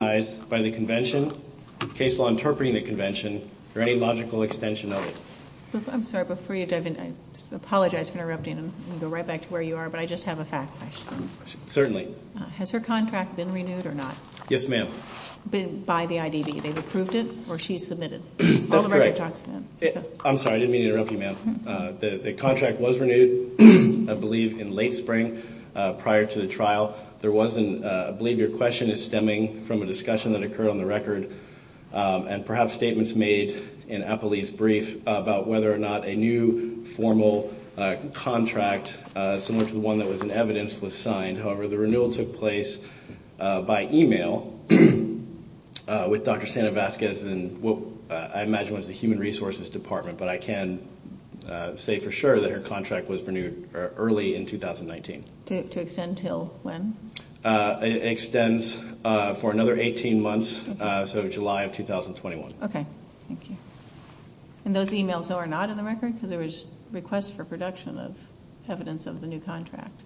by the Convention, Case law interpreting the Convention, or any logical extension of it. I'm sorry, before you Debbie, I apologize for interrupting you, I'll go right back to where you are, but I just have a fact question. Certainly. Has her contract been renewed or not? Yes ma'am. By the IDB, they've approved it or she submitted it, I'm sorry. I didn't mean to interrupt you ma'am. The contract was renewed I believe in late spring prior to the trial. There wasn't, I believe your question is stemming from a discussion that occurred on the record, and perhaps statements made in Applebee's brief about whether or not a new formal contract, similar to the one that was in evidence, was signed. However, the renewal took place by email with Dr. Stanevaskis and what I imagine was the Human Resources Department, but I can say for sure that her contract was renewed early in 2019. To extend until when? It extends for another 18 months, so July of 2021. Okay, thank you. And those emails are not in the record? Because there was a request for production of evidence of the new contract.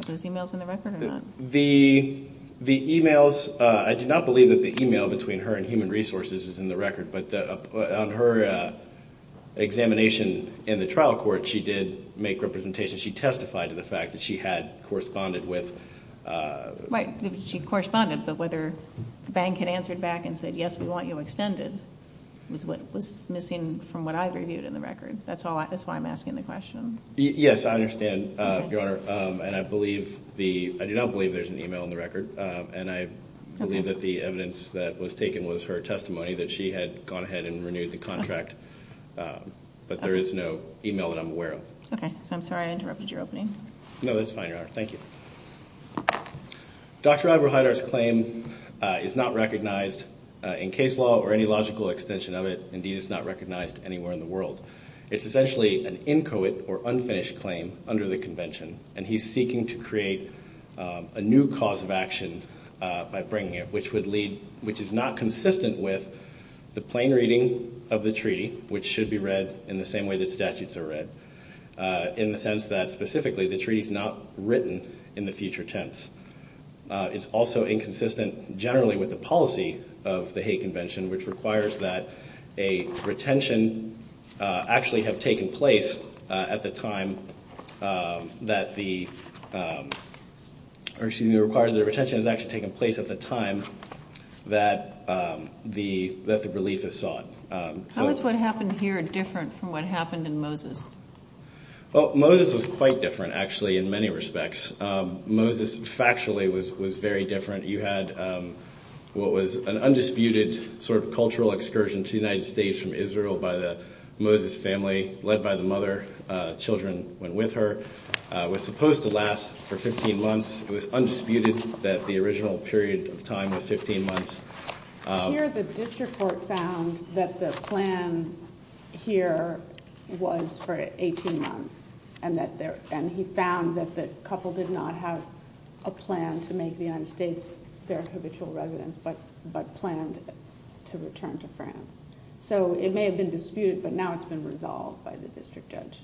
Are those emails in the record or not? The emails, I do not believe that the email between her and Human Resources is in the record, but on her examination in the trial court, she did make representations. She testified to the fact that she had corresponded with... Right, she corresponded, but whether the bank had answered back and said, yes, we want you extended, is what was missing from what I've reviewed in the record. That's why I'm asking the question. Yes, I understand, Your Honor, and I believe the, I do not believe there's an email in the record, and I believe that the evidence that was taken was her testimony that she had gone ahead and renewed the contract, but there is no email that I'm aware of. Okay, I'm sorry I interrupted your opening. No, that's fine, Your Honor. Thank you. Dr. Albrecht Heider's claim is not recognized in case law or any logical extension of it. Indeed, it's not recognized anywhere in the world. It's essentially an inchoate or unfinished claim under the convention, and he's seeking to create a new cause of action by bringing it, which would lead, which is not consistent with the plain reading of the treaty, which should be read in the same way that statutes are read, in the sense that specifically the treaty's not written in the future tense. It's also inconsistent generally with the policy of the Hague Convention, which requires that a retention actually have taken place at the time that the, or excuse me, requires that a retention has actually taken place at the time that the relief is sought. How is what happened here different from what happened in Moses? Well, Moses was quite different actually in many respects. Moses factually was very different. You had what was an undisputed sort of cultural excursion to the United States from Israel by the Moses family, led by the mother. Children went with her. It was supposed to last for 15 months. It was undisputed that the original period of time was 15 months. Here the district court found that the plan here was for 18 months, and he found that the couple did not have a plan to make the United States their habitual residence, but planned to return to France. So it may have been disputed, but now it's been resolved by the district judge.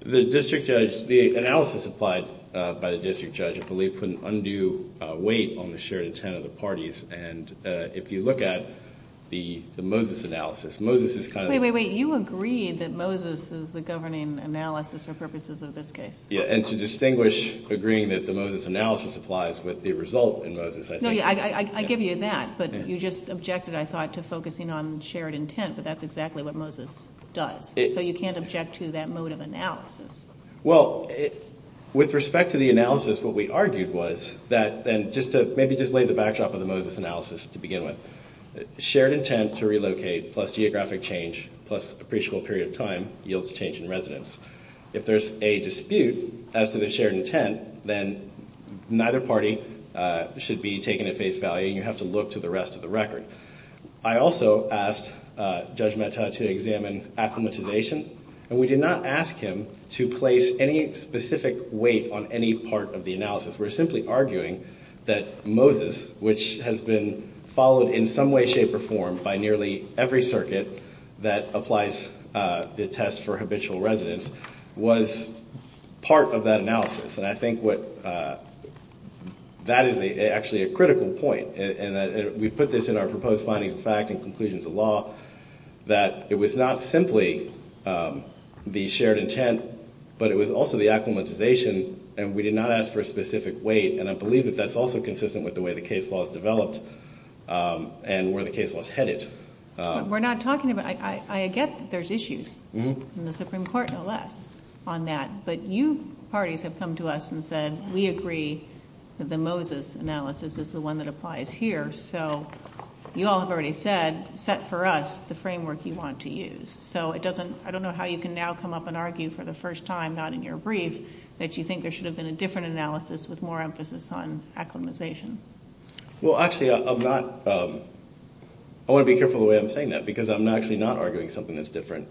The analysis applied by the district judge, I believe, put an undue weight on the shared intent of the parties, and if you look at the Moses analysis, Moses is kind of... Wait, wait, wait. You agreed that Moses is the governing analysis for purposes of this case. Yeah, and to distinguish agreeing that the Moses analysis applies with the result in Moses... No, I give you that, but you just objected, I thought, to focusing on shared intent that the Moses analysis does, so you can't object to that mode of analysis. Well, with respect to the analysis, what we argued was that, and just to maybe lay the backdrop of the Moses analysis to begin with, shared intent to relocate plus geographic change plus pre-school period of time yields change in residence. If there's a dispute as to the shared intent, then neither party should be taken at face value, and you have to look to the rest of the record. I also asked Judge Matta to examine acclimatization, and we did not ask him to place any specific weight on any part of the analysis. We're simply arguing that Moses, which has been followed in some way, shape, or form by nearly every circuit that applies the test for habitual residence, was part of that analysis, and I think that is actually a critical point. We put this in our proposed finding of fact and conclusions of law, that it was not simply the shared intent, but it was also the acclimatization, and we did not ask for a specific weight, and I believe that that's also consistent with the way the case law is developed, and where the case law is headed. We're not talking about... I get that there's issues in the Supreme Court, and a lot on that, but you know, a lot of parties have come to us and said, we agree that the Moses analysis is the one that applies here, so you all have already said, set for us the framework you want to use. So it doesn't... I don't know how you can now come up and argue for the first time, not in your brief, that you think there should have been a different analysis with more emphasis on acclimatization. Well, actually, I'm not... I want to be careful the way I'm saying that, because I'm actually not arguing something that's different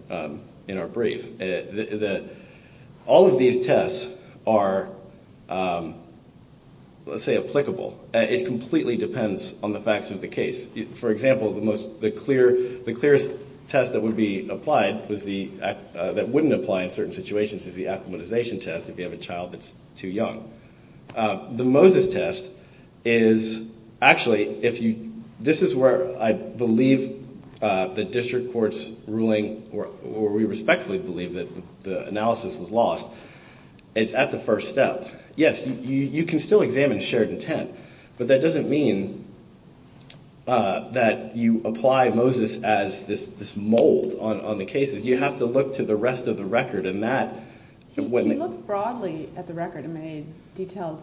in our brief. All of these tests are, let's say, applicable. It completely depends on the facts of the case. For example, the clearest test that would be applied, that wouldn't apply in certain situations, is the acclimatization test if you have a child that's too young. The Moses test is... Actually, this is where I believe the district court's ruling, or we respectfully believe that the analysis was lost, is at the first step. Yes, you can still examine shared intent, but that doesn't mean that you apply Moses as this mold on the case. You have to look to the rest of the record, and that... You look broadly at the record and many detailed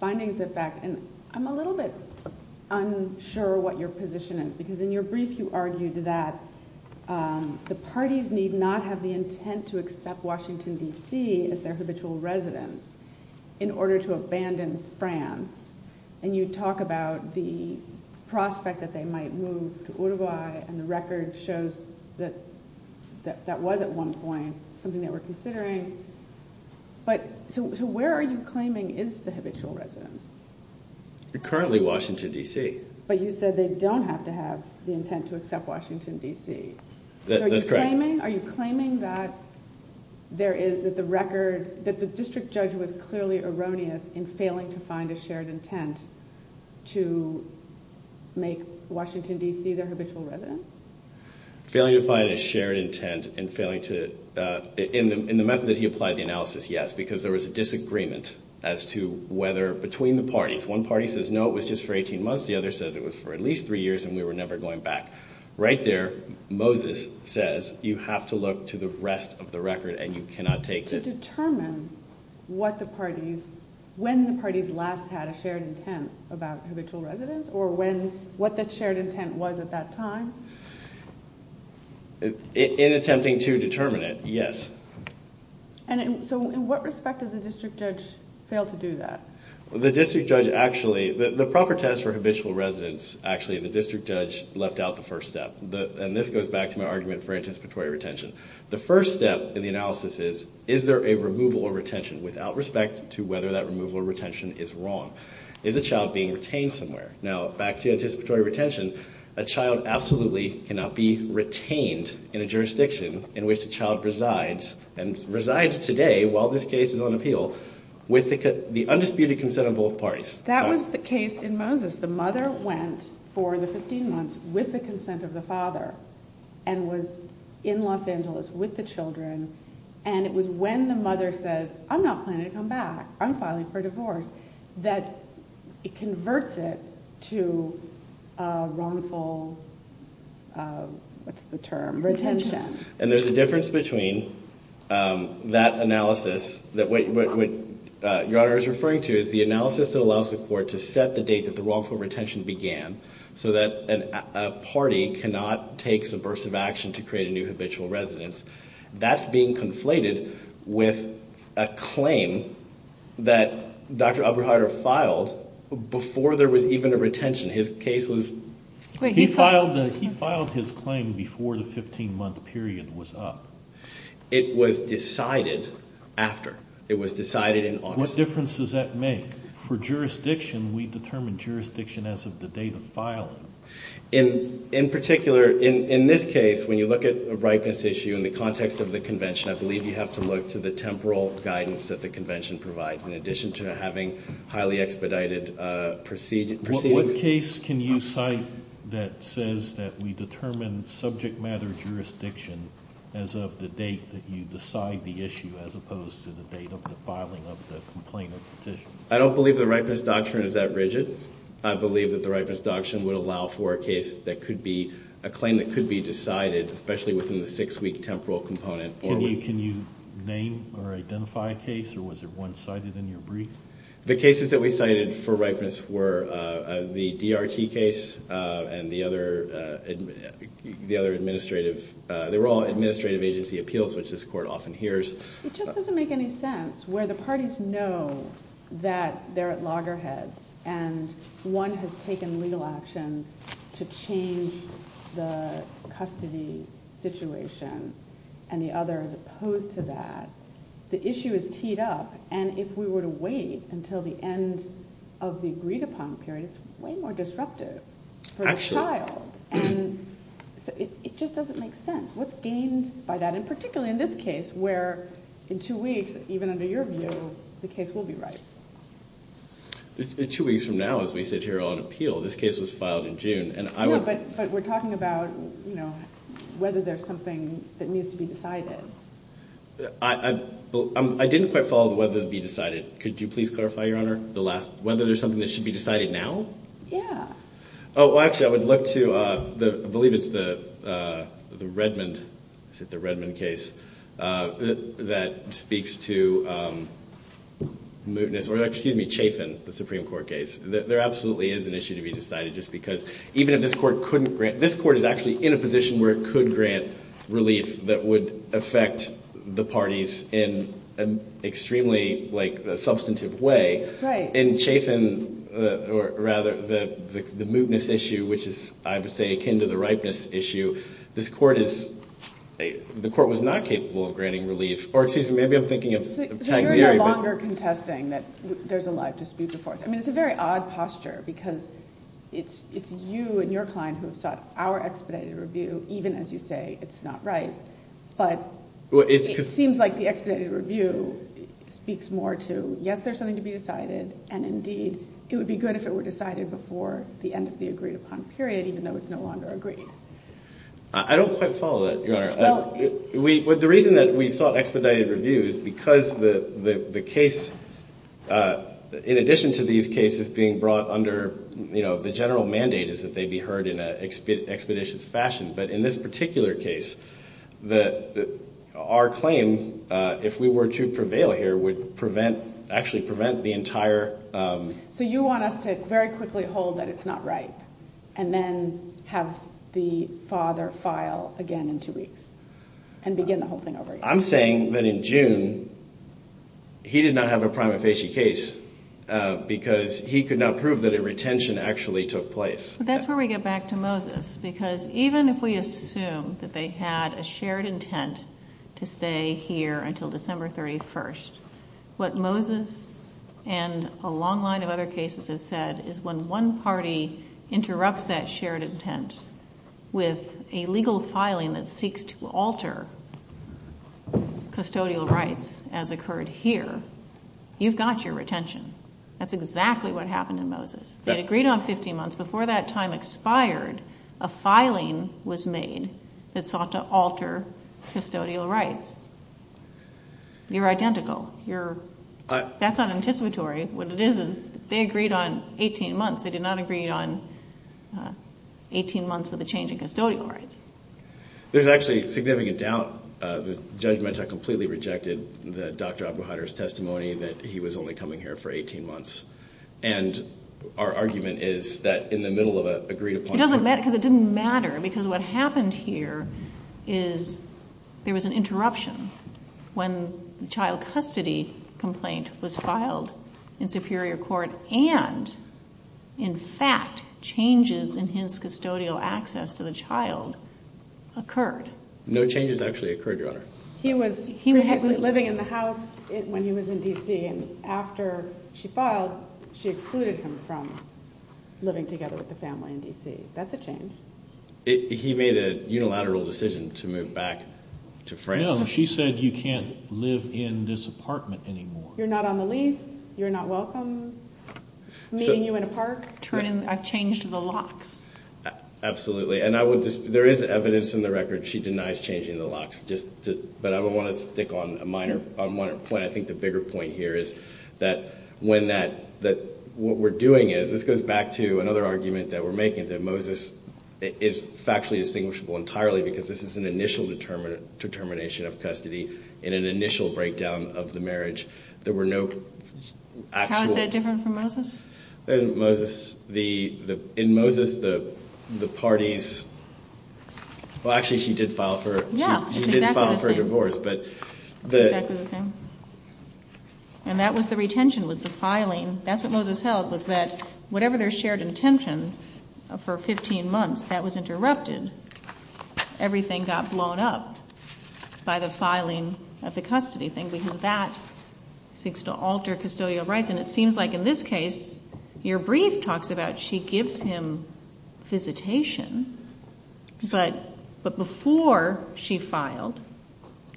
findings of facts, and I'm a little bit unsure what your position is, because in your brief, you argued that the parties need not have the intent to accept Washington, D.C. as their habitual residence in order to abandon France. You talk about the prospect that they might move to Uruguay, and the record shows that that was, at one point, something that we're considering, but to where are you claiming is the habitual residence? Currently, Washington, D.C. But you said they don't have to have the intent to accept Washington, D.C. That's correct. Are you claiming that there is, that the record, that the district judge was clearly erroneous in failing to find a shared intent to make Washington, D.C. their habitual residence? Failing to find a shared intent and failing to... In the method that you applied the analysis, yes, because there was a disagreement as to whether, between the parties. One party says, no, it was just for 18 months. The other said it was for at least three years and we were never going back. Right there, Moses says, you have to look to the rest of the record and you cannot take... To determine what the parties, when the parties last had a shared intent about habitual residence, or when, what that shared intent was at that time? In attempting to determine it, yes. And so, in what respect does the district judge fail to do that? The district judge actually, the proper test for habitual residence, actually, the district judge left out the first step. And this goes back to my argument for anticipatory retention. The first step in the analysis is, is there a removal of retention without respect to whether that removal of retention is wrong? Is the child being retained somewhere? Now, back to anticipatory retention, a child absolutely cannot be retained in a jurisdiction in which the child resides, and resides today, while this case is on appeal, with the undisputed consent of both parties. That was the case in Moses. The mother went for the 15 months with the consent of the father, and was in Los Angeles with the children, and it was when the mother says, I'm not planning to come back, I'm filing for divorce, that it converts it to wrongful, what's the term? Retention. Retention. And there's a difference between that analysis, what your Honor is referring to, the analysis that allows the court to set the date that the wrongful retention began, so that a party cannot take subversive action to create a new habitual residence. That's being conflated with a claim that Dr. Albrecht-Harder filed before there was even a retention. His case was... He filed his claim before the 15 month period was up. It was decided after. It was decided in August. What difference does that make? For jurisdiction, we determine jurisdiction as of the date of filing. In particular, in this case, when you look at a brightness issue in the context of the convention, I believe you have to look to the temporal guidance that the convention provides, in addition to having highly expedited proceedings. What case can you cite that says that we determine subject matter jurisdiction as of the date that you decide the issue, as opposed to the date of the filing of the complaint or petition? I don't believe the ripeness doctrine is that rigid. I believe that the ripeness doctrine would allow for a case that could be, a claim that could be decided, especially within the six week temporal component. Can you name or identify a case, or was there one cited in your brief? The cases that we cited for ripeness were the DRT case, and the other administrative... They were all administrative agency appeals, which this court often hears. It just doesn't make any sense, where the parties know that they're at loggerhead, and one has taken legal action to change the custody situation, and the other is opposed to that. The issue is teed up, and if we were to wait until the end of the agreed upon period, it's way more disruptive for the child, and it just doesn't make sense. What's gained by that, and particularly in this case, where in two weeks, even under your view, the case will be right? In two weeks from now, as we sit here on appeal, this case was filed in June, and I... But we're talking about, you know, whether there's something that needs to be decided. I didn't quite follow whether it would be decided. Could you please clarify, Your Honor, the last... Whether there's something that should be decided now? Yeah. Oh, well, actually, I would look to... I believe it's the Redmond case that speaks to mootness, or excuse me, chafing, the Supreme Court case. There absolutely is an issue to be decided, just because even if this court couldn't grant... affect the parties in an extremely substantive way, and chafing, or rather, the mootness issue, which is, I would say, akin to the rightness issue, this court is... The court was not capable of granting relief, or excuse me, maybe I'm thinking of... You're no longer contesting that there's a lot of dispute before. I mean, it's a very odd posture, because it's you and your client who have sought our expedited review, even as you say it's not right, but it seems like the expedited review speaks more to, yes, there's something to be decided, and indeed, it would be good if it were decided before the end of the agreed-upon period, even though it's no longer agreed. I don't quite follow that, Your Honor. The reason that we sought expedited review is because the case, in addition to these cases being brought under the general mandate is that they be heard in an expeditious fashion, but in this particular case, our claim, if we were to prevail here, would actually prevent the entire... So you want us to very quickly hold that it's not right, and then have the father file again in two weeks, and begin the whole thing over again? I'm saying that in June, he did not have a prima facie case, because he could not prove that a retention actually took place. That's where we get back to Moses, because even if we assume that they had a shared intent to stay here until December 31st, what Moses and a long line of other cases have said is when one party interrupts that shared intent with a legal filing that seeks to alter custodial rights, as occurred here, you've got your retention. That's exactly what happened in Moses. They agreed on 15 months. Before that time expired, a filing was made that sought to alter custodial rights. You're identical. That's not anticipatory. What it is, is they agreed on 18 months. They did not agree on 18 months of the change in custodial rights. There's actually significant doubt. The judge might have completely rejected the Dr. Abu-Hadir's testimony that he was only coming here for 18 months. Our argument is that in the middle of an agreed upon... It doesn't matter, because it didn't matter, because what happened here is there was an custody complaint was filed in Superior Court, and in fact, changes in his custodial access to the child occurred. No changes actually occurred, Your Honor. He was living in the house when he was in D.C., and after she filed, she excluded him from living together with the family in D.C. That's a change. He made a unilateral decision to move back to France. She said you can't live in this apartment anymore. You're not on the lease. You're not welcome. Meeting you in a park. A change to the locks. Absolutely. There is evidence in the record she denies changing the locks, but I want to stick on a minor point. I think the bigger point here is that what we're doing is... This goes back to another argument that we're making, that Moses is factually distinguishable entirely because this is an initial determination of custody and an initial breakdown of the marriage. There were no actual... How is that different from Moses? In Moses, the parties... Well, actually, she did file for... Yeah. She did file for divorce, but... And that was the retention, was the filing. That's what Moses held, was that whatever their shared intention for 15 months, that was interrupted. Everything got blown up by the filing of the custody thing because that seeks to alter custodial rights. And it seems like in this case, your brief talks about she gives him visitation, but before she filed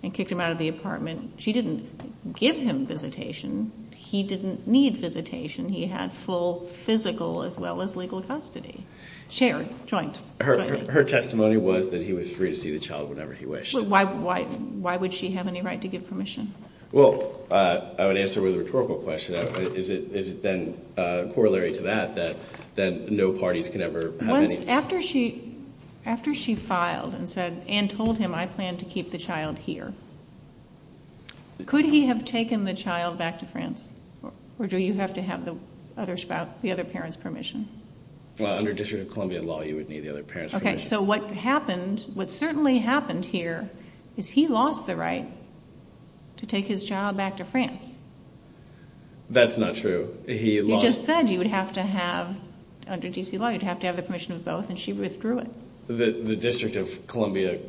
and kicked him out of the apartment, she didn't give him visitation. He didn't need visitation. He had full physical as well as legal custody. Shared, joint custody. Her testimony was that he was free to see the child whenever he wished. Why would she have any right to get permission? Well, I would answer the rhetorical question. Is it then corollary to that, that no parties can ever have any... After she filed and said, and told him, I plan to keep the child here, could he have taken the child back to France? Or do you have to have the other parent's permission? Well, under District of Columbia law, you would need the other parent's permission. Okay, so what happened, what certainly happened here, is he lost the right to take his child back to France. That's not true. He lost... You just said you would have to have, under DC law, you'd have to have the permission of both, and she withdrew it. The District of Columbia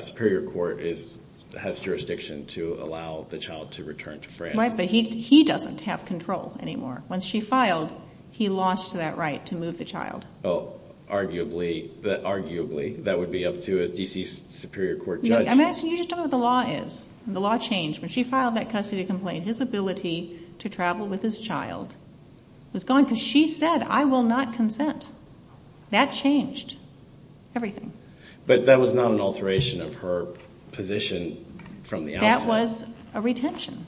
Superior Court has jurisdiction to allow the child to return to France. Right, but he doesn't have control anymore. When she filed, he lost that right to move the child. Well, arguably, that would be up to a DC Superior Court judge. I'm asking, you just don't know what the law is. The law changed. When she filed that custody complaint, his ability to travel with his child was gone. She said, I will not consent. That changed everything. But that was not an alteration of her position from the outset. That was a retention.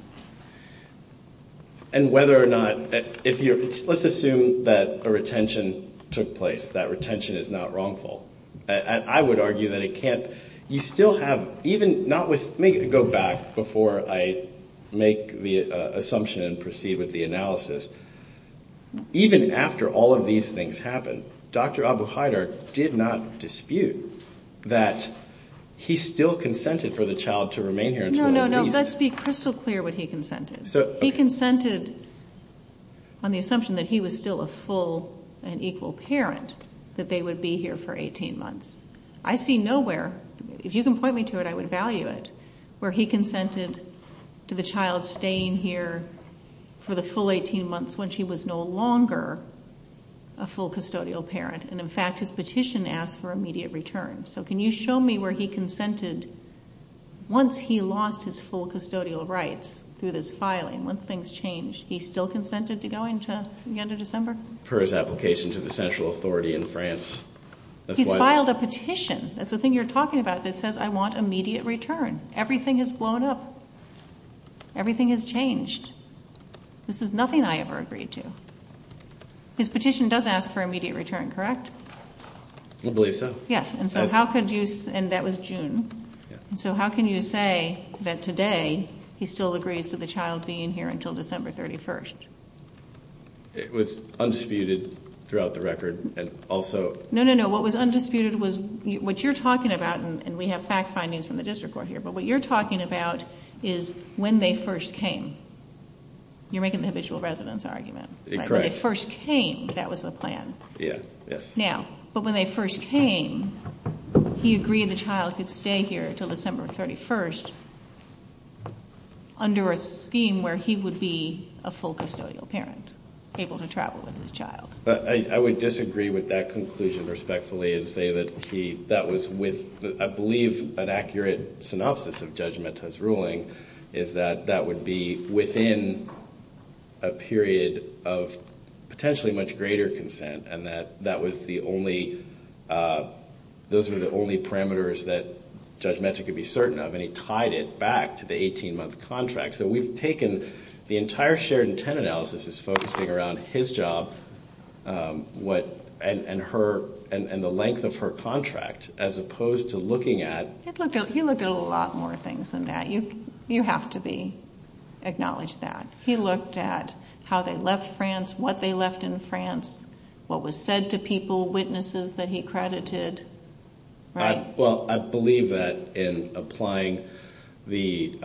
And whether or not... Let's assume that a retention took place, that retention is not wrongful. I would argue that it can't... You still have... Let me go back before I make the assumption and proceed with the analysis. Even after all of these things happened, Dr. Abu-Haidar did not dispute that he still consented for the child to remain here. No, no, no. Let's be crystal clear what he consented. He consented on the assumption that he was still a full and equal parent, that they would be here for 18 months. I see nowhere, if you can point me to it, I would value it, where he consented to the child staying here for the full 18 months when she was no longer a full custodial parent. And in fact, his petition asked for immediate return. Can you show me where he consented once he lost his full custodial rights through this filing, once things changed. He still consented to going to the end of December? For his application to the central authority in France. He filed a petition, that's the thing you're talking about, that says, I want immediate return. Everything has blown up. Everything has changed. This is nothing I ever agreed to. His petition does ask for immediate return, correct? I believe so. Yes, and that was June. So how can you say that today he still agrees to the child being here until December 31st? It was undisputed throughout the record and also... No, no, no, what was undisputed was what you're talking about, and we have fact findings from the district court here, but what you're talking about is when they first came. You're making the habitual residence argument. Correct. When they first came, that was the plan. Yes. Now, but when they first came, he agreed the child could stay here until December 31st under a scheme where he would be a full custodial parent, able to travel with his child. I would disagree with that conclusion respectfully and say that was with, I believe, an accurate synopsis of judgment as ruling is that that would be within a period of potentially much greater consent and that those were the only parameters that Judge Metcalf could be certain of, and he tied it back to the 18-month contract. So we've taken the entire shared intent analysis as focusing around his job and the length of her contract as opposed to looking at... He looked at a lot more things than that. You have to acknowledge that. He looked at how they left France, what they left in France, what was said to people, witnesses that he credited. Well, I believe that in applying the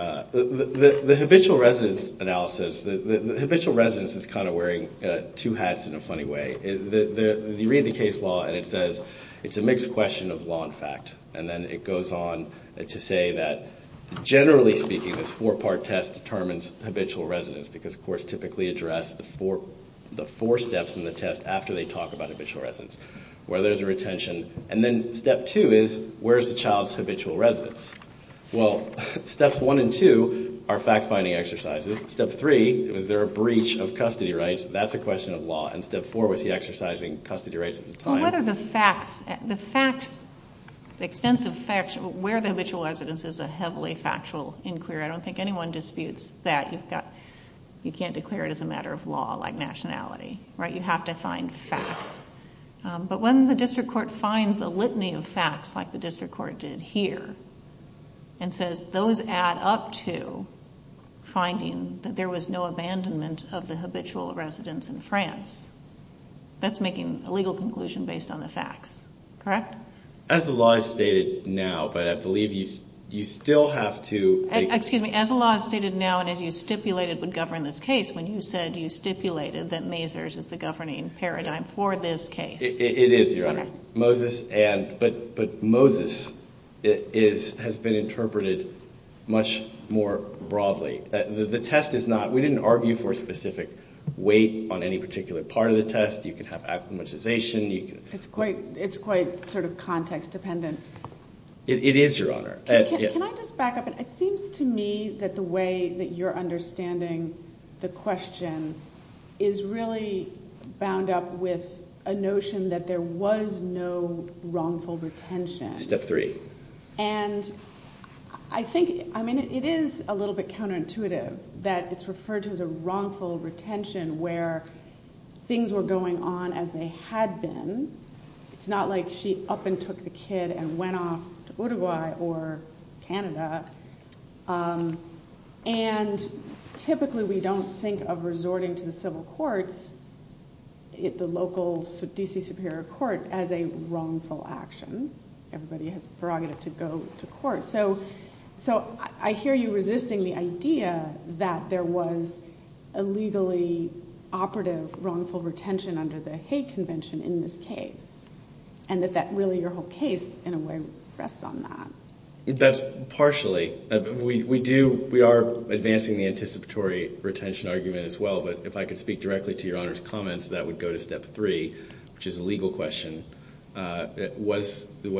habitual residence analysis, the habitual residence is kind of wearing two hats in a funny way. You read the case law and it says it's a mixed question of law and fact, and then it goes on to say that generally speaking, this four-part test determines habitual residence because courts typically address the four steps in the test after they talk about habitual residence, whether there's a retention. And then step two is, where's the child's habitual residence? Well, steps one and two are fact-finding exercises. Step three, is there a breach of custody rights? That's a question of law. And step four was the exercising custody rights. Well, what are the facts? The extensive facts, where the habitual residence is, is a heavily factual inquiry. I don't think anyone disputes that. You can't declare it as a matter of law, like nationality. You have to find facts. But when the district court finds a litany of facts, like the district court did here, and says those add up to finding that there was no abandonment of the habitual residence in France, that's making a legal conclusion based on the facts. Correct? As the law is stated now, but I believe you still have to... Excuse me, as the law is stated now, and as you stipulated would govern this case, when you said you stipulated that Mathers is the governing paradigm for this case. It is, Your Honor. But Moses has been interpreted much more broadly. The test is not... We didn't argue for a specific weight on any particular part of the test. You can have acclimatization. It's quite sort of context-dependent. It is, Your Honor. Can I just back up a bit? It seems to me that the way that you're understanding the question is really bound up with a notion that there was no wrongful retention. Step three. And I think... I mean, it is a little bit counterintuitive that it's referred to as a wrongful retention where things were going on as they had been. It's not like she up and took the kid and went off to Uruguay or Canada. And typically we don't think of resorting to the civil courts, the local D.C. Superior Court, as a wrongful action. Everybody has the prerogative to go to court. So I hear you resisting the idea that there was a legally operative wrongful retention under the hate convention in this case. And that really your whole case in a way rests on that. Partially. We are advancing the anticipatory retention argument as well, but if I could speak directly to Your Honor's comments, that would go to step three, which is a legal question. Was there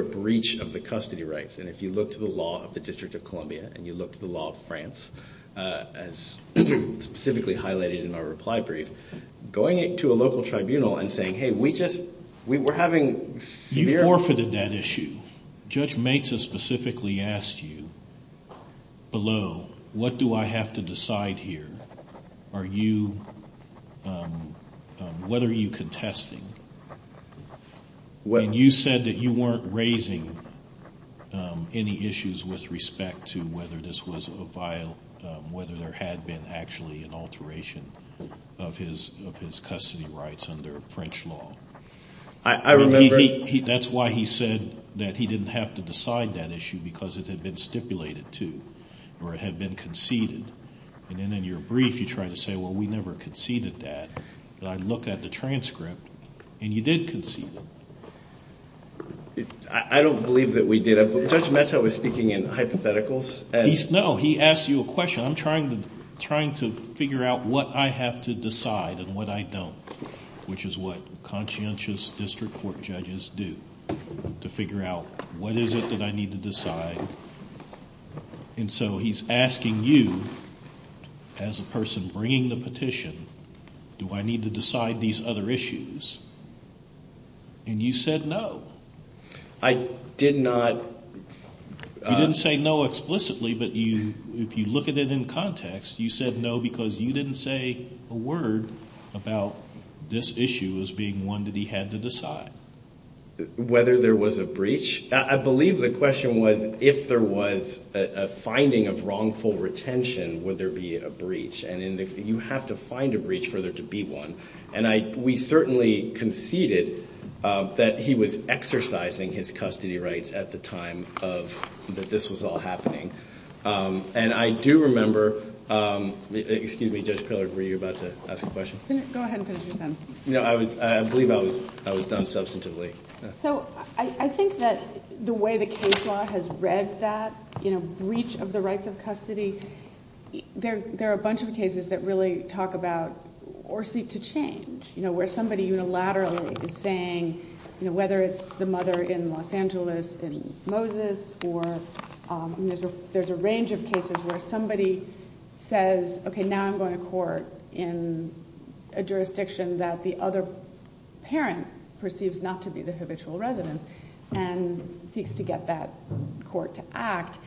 a breach of the custody rights? And if you look to the law of the District of Columbia, and you look to the law of France, as specifically highlighted in my reply brief, going to a local tribunal and saying, hey, we just, we were having severe... You forfeited that issue. Judge Mehta specifically asked you below, what do I have to decide here? Are you, what are you contesting? And you said that you weren't raising any issues with respect to whether this was a violent, whether there had been actually an alteration of his custody rights under French law. That's why he said that he didn't have to decide that issue because it had been stipulated to or it had been conceded. And then in your brief, you try to say, well, we never conceded that. And I look at the transcript, and you did concede it. I don't believe that we did. Judge Mehta was speaking in hypotheticals. No, he asked you a question. I'm trying to figure out what I have to decide and what I don't, which is what conscientious district court judges do to figure out what is it that I need to decide. And so, he's asking you as a person bringing the petition, do I need to decide these other issues? And you said no. I did not... You didn't say no explicitly, but if you look at it in context, you said no because you didn't say a word about this issue as being one that he had to decide. Whether there was a breach? I believe the question was if there was a finding of wrongful retention, would there be a breach? And you have to find a breach for there to be one. And we certainly conceded that he was exercising his custody rights at the time that this was all happening. And I do remember... Excuse me, Judge Pillard, were you about to ask a question? Go ahead. I believe I was done substantively. So, I think that the way the case law has read that, breach of the rights of custody, there are a bunch of cases that really talk about or seek to change, where somebody unilaterally is saying, whether it's the mother in Los Angeles and Moses, or there's a range of cases where somebody says, okay, now I'm going to court in a jurisdiction that the other parent perceives not to be the habitual resident and seeks to get that court to act.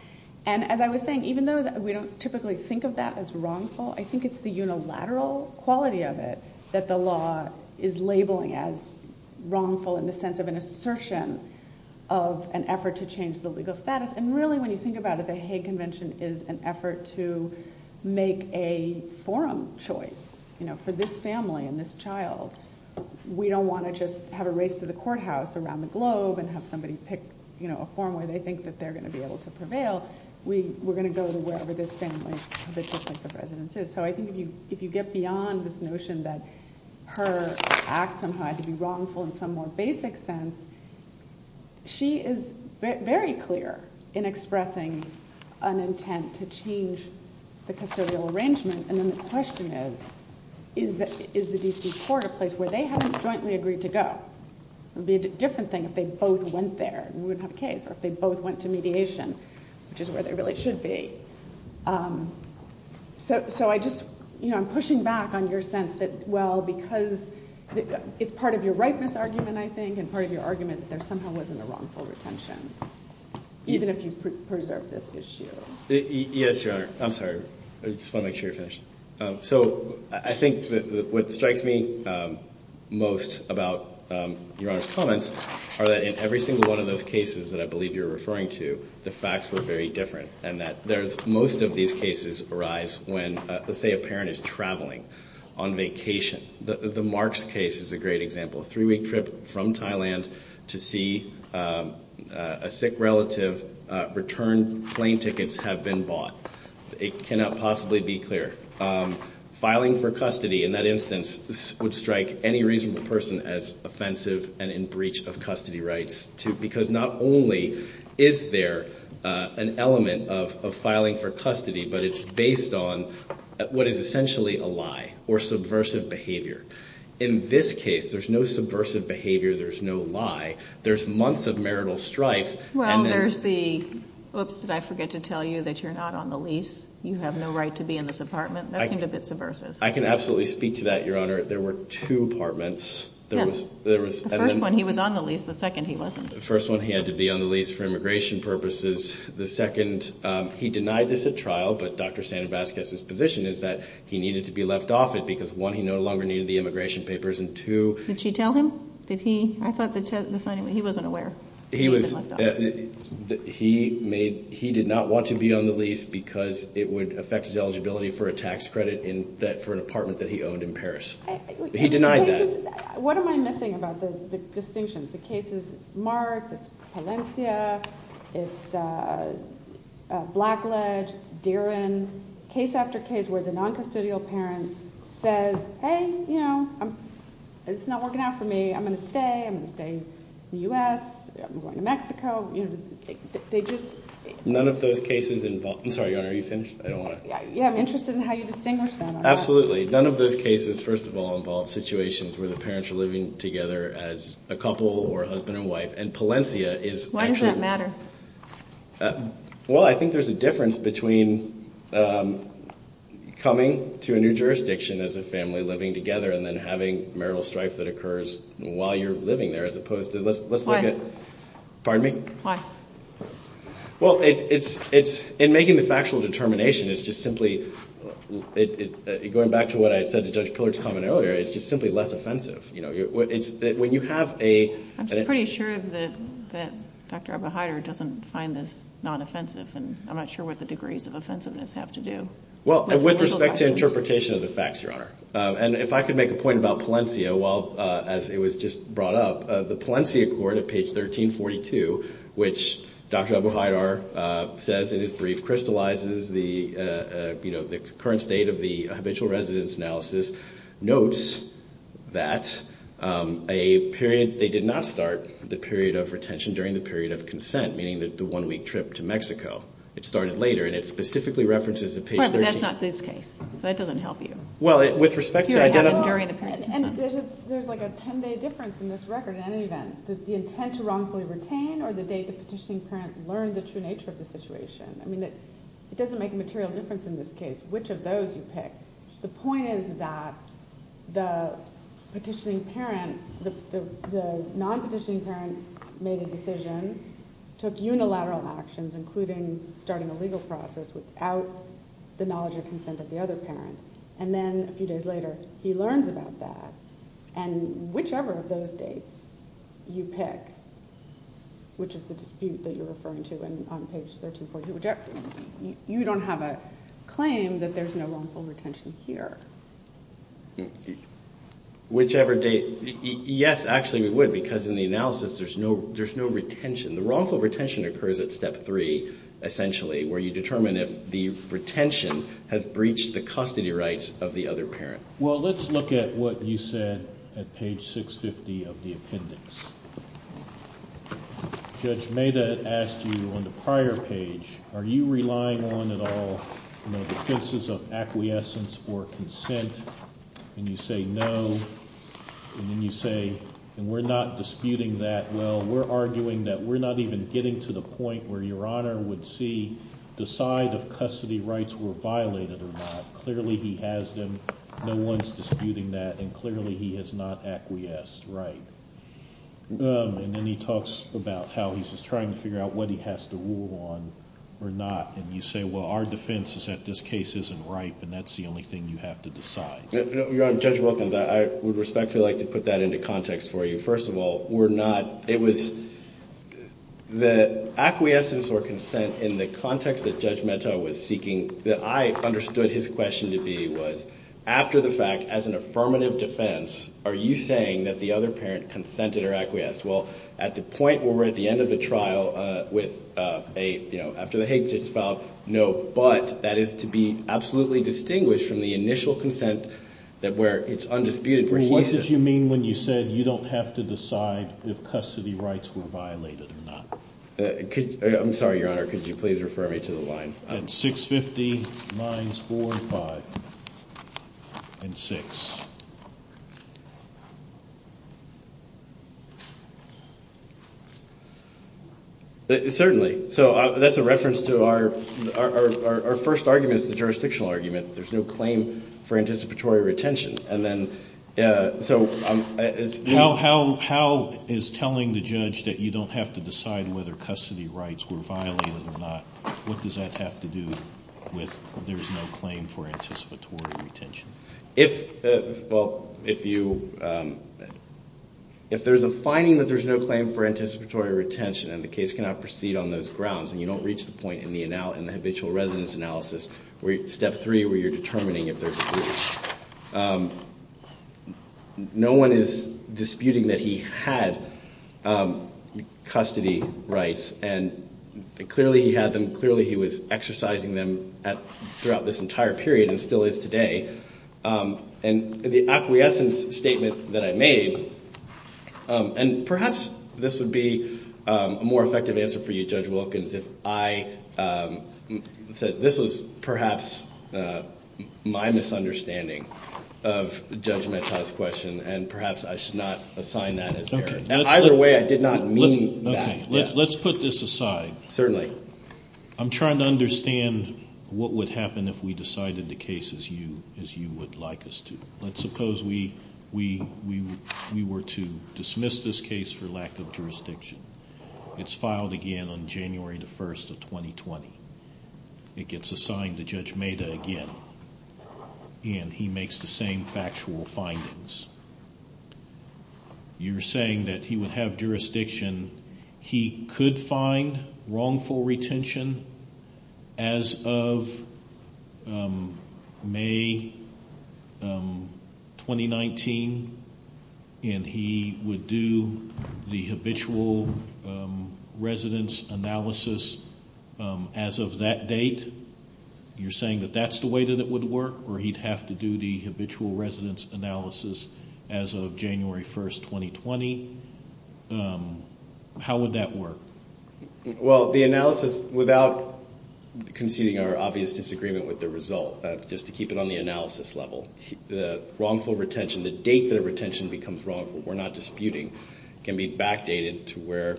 And as I was saying, even though we don't typically think of that as wrongful, I think it's the unilateral quality of it that the law is labeling as wrongful in the sense of an assertion of an effort to change the legal status. And really, when you think about it, the Hague Convention is an effort to make a forum choice for this family and this child. We don't want to just have a race to the courthouse around the globe and have somebody pick a forum where they think they're going to be able to prevail. We're going to go to wherever this family position of residence is. So, I think if you get beyond this notion that her acts are wrongful in some more basic sense, she is very clear in expressing an intent to change the custodial arrangement and then the question is, is the D.C. Court a place where they haven't jointly agreed to go? It would be a different thing if they both went there and we would have a case, or if they both went to mediation, which is where they really should be. So, I just, you know, I'm pushing back on your sense that, well, because it's part of your rightness argument, I think, and part of your argument that there somehow isn't a wrongful retention even if you preserve this issue. Yes, Your Honor. I'm sorry. I just want to make sure you're finished. So, I think what strikes me most about Your Honor's comments are that in every single one of those cases that I believe you're referring to, the facts were very different and that most of these cases arise when, say, a parent is traveling on vacation. The Marks case is a great example. A three-week trip from Thailand to see a sick relative return plane tickets have been bought. It cannot possibly be clear. Filing for custody, in that instance, would strike any reasonable person as offensive and in breach of custody rights because not only is there an element of filing for custody, but it's based on what is essentially a lie or subversive behavior. In this case, there's no subversive behavior. There's no lie. There's months of marital strife. Well, there's the... Oops, did I forget to tell you that you're not on the lease? You have no right to be in this apartment. I can absolutely speak to that, Your Honor. There were two apartments. The first one, he was on the lease. The second, he wasn't. The first one, he had to be on the lease for immigration purposes. The second, he denied this at trial, but Dr. Sanabaskias' position is that he needed to be left off it because, one, he no longer needed the immigration papers, and two... Did she tell him? Did he? I thought that he wasn't aware. He did not want to be on the lease because it would affect his eligibility for a tax credit for an apartment that he owned in Paris. He denied that. What am I missing about the decisions? The cases Mark, Valencia, Blackledge, Dieron, case after case where the non-custodial parent says, hey, you know, it's not working out for me. I'm going to stay. I'm going to stay in the U.S. I'm going to Mexico. They just... None of those cases involve... I'm sorry, Your Honor, are you interested? I don't want to... Yeah, I'm interested in how you distinguish them. Absolutely. None of those cases, first of all, involve situations where the parents are living together as a couple or husband and wife, and Valencia is actually... Why does that matter? Well, I think there's a difference between coming to a new jurisdiction as a family living together and then having marital strife that occurs while you're living there as opposed to... Why? Pardon me? Why? Well, in making the factual determination, it's just simply... Going back to what I said to Judge Pillard's comment earlier, it's just simply less offensive. When you have a... I'm pretty sure that Dr. Abahayer doesn't find this non-offensive, and I'm not sure what the degrees of offensiveness have to do. Well, with respect to interpretation of the facts, Your Honor, and if I could make a point about Valencia, while it was just brought up, the Valencia Court at page 1342, which Dr. Abahayer says in his brief crystallizes the current state of the habitual residence analysis, notes that a period... They did not start the period of retention during the period of consent, meaning the one-week trip to Mexico. It started later, and it specifically references the page 13... But that's not this case. That doesn't help you. Well, with respect to... During the period of consent. There's like a 10-day difference in this record, in any event. Does the intent to wrongfully retain or the day the petitioning parent learned the true nature of the situation? It doesn't make a material difference in this case which of those you pick. The point is that the petitioning parent, the non-petitioning parent made a decision, took unilateral actions, including starting a legal process without the knowledge or consent of the other parent, and then a few days later he learns about that. Whichever of those dates you pick, which is the dispute that you're referring to on page 1342, you don't have a claim that there's no wrongful retention here. Whichever date... Yes, actually we would, because in the analysis there's no retention. The wrongful retention occurs at step 3, essentially, where you determine if the retention has breached the custody rights of the other parent. Well, let's look at what you said at page 650 of the appendix. Judge Mehta asked you on the prior page, are you relying on at all the defenses of acquiescence or consent? And you say no, and then you say we're not disputing that. Well, we're arguing that we're not even getting to the point where your Honor would see the side of custody rights were violated or not. Clearly he has them. No one's disputing that, and clearly he has not acquiesced right. And then he talks about how he's just trying to figure out what he has to rule on or not. And you say, well, our defense is that this case isn't right, and that's the only thing you have to decide. Your Honor, Judge Wilkins, I would respectfully like to put that into context for you. First of all, we're not it was the acquiescence or consent in the context that Judge Mehta was seeking, that I understood his question to be was, after the fact, as an affirmative defense, are you saying that the other parent consented or acquiesced? Well, at the point where we're at the end of the trial, with a, you know, after the Hague just filed, no, but that is to be absolutely distinguished from the initial consent that where it's undisputed. What did you mean when you said you don't have to decide if custody rights were violated or not? I'm sorry, Your Honor, could you please refer me to the line? 650, lines 45 and 6. Certainly. So that's a reference to our our first argument is the jurisdictional argument. There's no claim for anticipatory retention, and then so How is telling the judge that you don't have to decide whether custody rights were violated or not, what does that have to do with there's no claim for anticipatory retention? Well, if you if there's a finding that there's no claim for anticipatory retention and the case cannot proceed on those grounds, and you don't reach the point in the in the habitual residence analysis where step three where you're determining if there's a No one is disputing that he had custody rights and clearly he had them clearly he was exercising them throughout this entire period and still is today and the acquiescence statement that I made and perhaps this would be a more effective answer for you Judge Wilkins if I said this was perhaps of Judge Metcalfe's question and perhaps I should not assign that. Either way I did not mean that. Let's put this aside. Certainly. I'm trying to understand what would happen if we decided the case as you would like us to. Let's suppose we were to dismiss this case for lack of jurisdiction. It's filed again on January the 1st of 2020. It gets assigned to Judge Mehta again and he makes the same factual findings. You're saying that he would have jurisdiction he could find wrongful retention as of May 2019 and he would do the habitual residence analysis as of that date. You're saying that that's the way that it would work or he'd have to do the habitual residence analysis as of January 1st 2020. How would that work? Well, the analysis without conceding our obvious disagreement with the result, just to keep it on the analysis level. The wrongful retention, the date the retention becomes wrongful, we're not disputing, can be backdated to where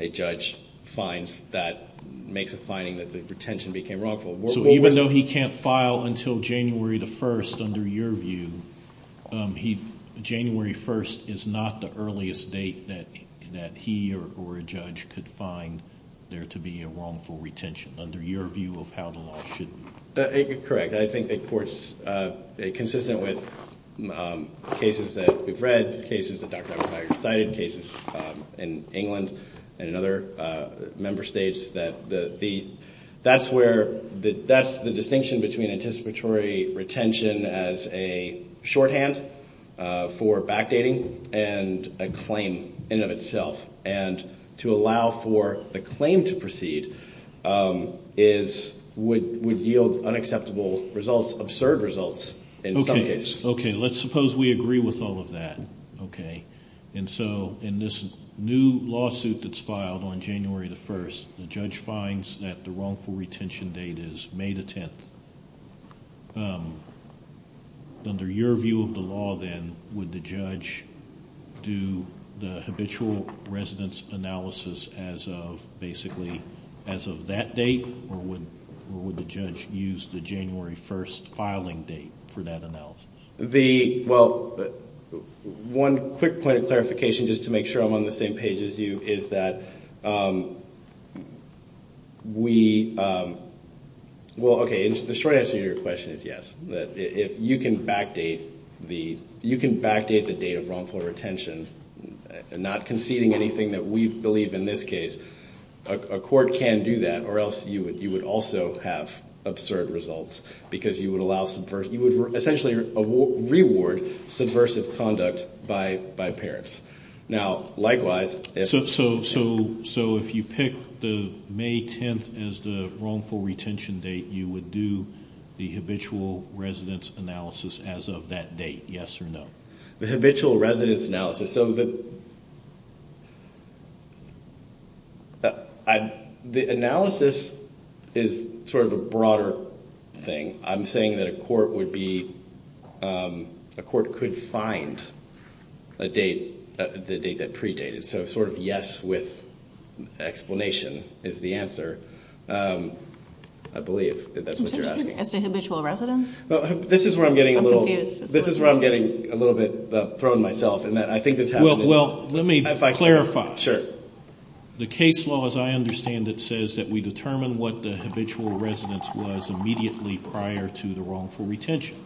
a judge finds that, makes a finding that the retention became wrongful. Even though he can't file until January the 1st, under your view, January 1st is not the earliest date that he or a judge could find there to be a wrongful retention, under your view of how the law should work. Correct. I think it is consistent with cases that we've read, cases that Dr. McIntyre cited, cases in England and other member states that the distinction between anticipatory retention as a shorthand for backdating and a claim in and of itself and to allow for the claim to proceed would yield unacceptable results, absurd results in some cases. Okay, let's suppose we agree with all of that. Okay, and so in this new lawsuit that's filed on January the 1st, the judge finds that the wrongful retention date is May the 10th. Under your view of the law then, would the judge do the habitual residence analysis as of that date, or would the judge use the January 1st filing date for that analysis? Well, one quick clarification just to make sure I'm on the same page as you, is that we well, okay, the short answer to your question is yes. You can backdate the date of wrongful retention, not conceding anything that we believe in this case. A court can do that, or else you would also have absurd results because you would allow subversive, you would essentially reward subversive conduct by parents. Now, likewise, So if you pick the May 10th as the wrongful retention date, you would do the habitual residence analysis as of that date, yes or no? The habitual residence analysis, so the analysis is sort of a broader thing. I'm saying that a court would be, a court could find a date, the date that predated. So sort of yes with explanation is the answer. I believe that that's what you're asking. It's the habitual residence? This is where I'm getting a little, this is where I'm getting a little bit thrown myself, in that I think it's Well, let me clarify. Sure. The case law, as I understand it, says that we determine what the habitual residence was immediately prior to the wrongful retention.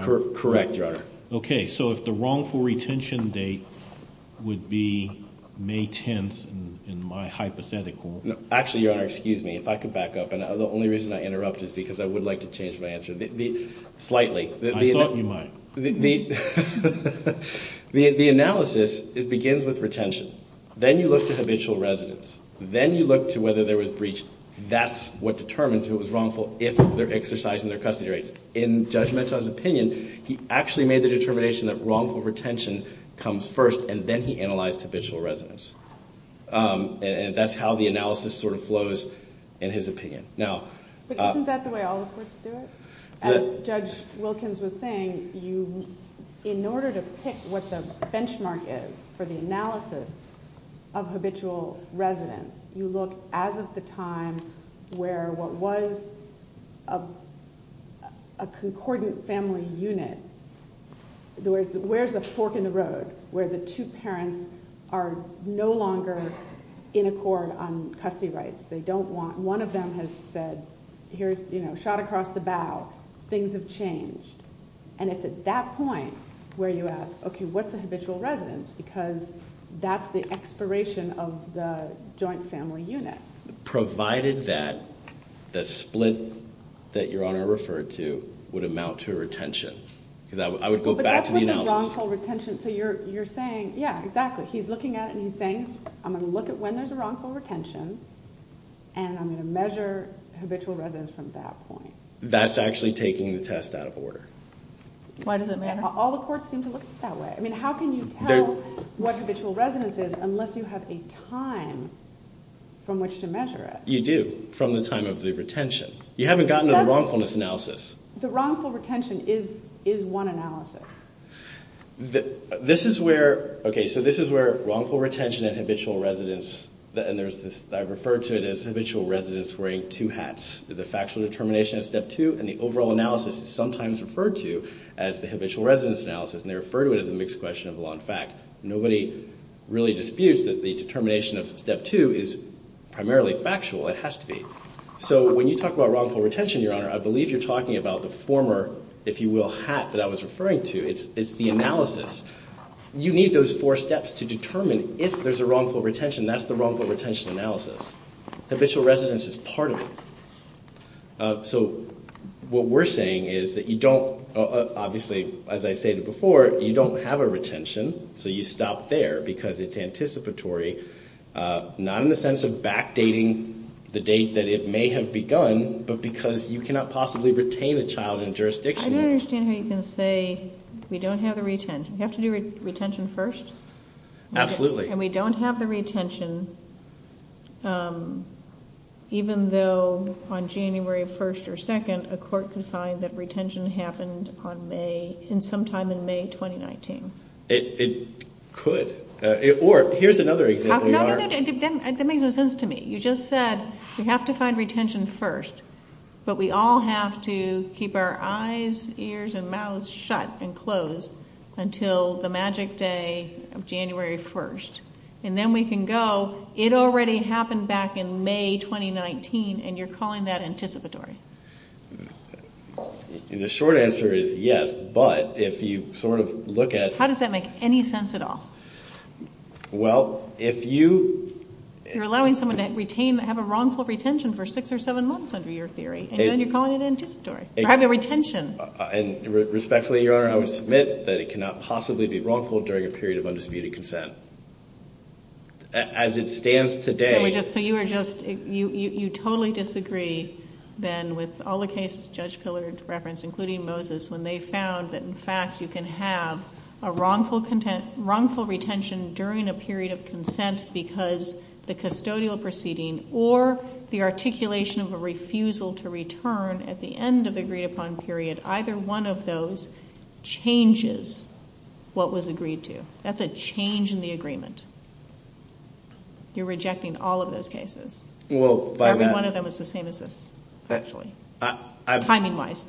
Correct, Your Honor. Okay. So if the wrongful retention date would be May 10th, in my hypothetical Actually, Your Honor, excuse me. If I could back up. The only reason I interrupted slightly. I thought you might. The analysis, it begins with retention. Then you look at habitual residence. Then you look to whether there was breach. That's what determines who was wrongful if they're exercising their custody rights. In Judge Menton's opinion, he actually made the determination that wrongful retention comes first, and then he analyzed habitual residence. And that's how the analysis sort of flows in his opinion. Now But isn't that the way all the courts do it? As Judge Wilkins was saying, you, in order to pick what the benchmark is for the analysis of habitual residence, you look as of the time where what was a concordant family unit Where's the fork in the road? Where the two parents are no longer in accord on custody rights. They don't want One of them has said, shot across the bow, things have changed. And it's at that point where you ask, okay, what's the habitual residence? Because that's the expiration of the joint family unit. Provided that the split that Your Honor referred to would amount to a retention. Because I would go back to the analysis. But that's like a wrongful retention. So you're saying, yeah, exactly. He's looking at it and he's saying, I'm going to look at when there's a wrongful retention, and I'm going to measure habitual residence from that point. That's actually taking the test out of order. All the courts seem to look at it that way. I mean, how can you tell what habitual residence is unless you have a time from which to measure it? You do, from the time of the retention. You haven't gotten it wrong on this analysis. The wrongful retention is one analysis. This is where Okay, so this is where wrongful retention and habitual residence I referred to it as habitual residence wearing two hats. The factual determination of step two and the overall analysis is sometimes referred to as the habitual residence analysis. And they refer to it as a mixed question of law and fact. Nobody really disputes that the determination of step two is primarily factual. It has to be. So when you talk about wrongful retention, Your Honor, I believe you're talking about the former, if you will, hat that I was referring to. It's the analysis. You need those four steps to determine if there's a wrongful retention. That's the wrongful retention analysis. Habitual residence is part of it. So what we're saying is that you don't obviously, as I stated before, you don't have a retention, so you stop there because it's anticipatory. Not in the sense of back dating the date that it may have begun, but because you cannot possibly retain a child in jurisdiction. I don't understand how you can say we don't have a retention. Do we have to do retention first? Absolutely. And we don't have the retention even though on January 1st or 2nd, a court could find that retention happened sometime in May 2019. It could. Here's another example, Your Honor. That makes no sense to me. You just said we have to find retention first, but we all have to keep our eyes, ears, and mouths shut and closed until the magic day of January 1st. And then we can go and it already happened back in May 2019, and you're calling that anticipatory. The short answer is yes, but if you sort of look at... How does that make any sense at all? Well, if you... You're allowing someone to have a wrongful retention for six or seven months under your theory, and then you're calling it anticipatory. You're having a retention. And respectfully, Your Honor, I would submit that it cannot possibly be wrongful during a period of undisputed consent. As it stands today. You totally disagree, Ben, with all the cases Judge Pillard referenced, including Moses, when they found that, in fact, you can have a wrongful retention during a period of consent because the custodial proceeding or the articulation of a refusal to return at the end of the agreed-upon period, either one of those changes what was agreed to. That's a change in the agreement. You're rejecting all of those cases. Every one of them is the same as this. Timing-wise.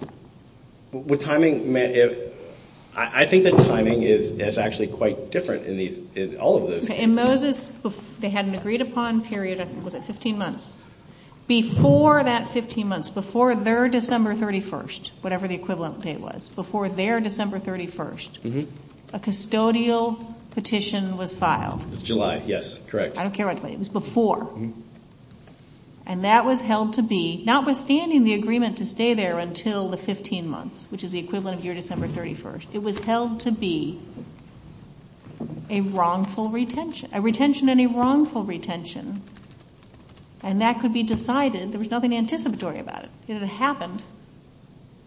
With timing, I think the timing is actually quite different in all of those cases. In Moses, they had an agreed-upon period of, what was it, 15 months. Before that 15 months, before their December 31st, whatever the equivalent date was, before their December 31st, a custodial petition was filed. July, yes. Correct. I don't care what date. It was before. And that was held to be, notwithstanding the agreement to stay there until the 15 months, which is the equivalent of your December 31st, it was held to be a wrongful retention. A retention and a wrongful retention. And that could be decided. There was nothing anticipatory about it. It happened.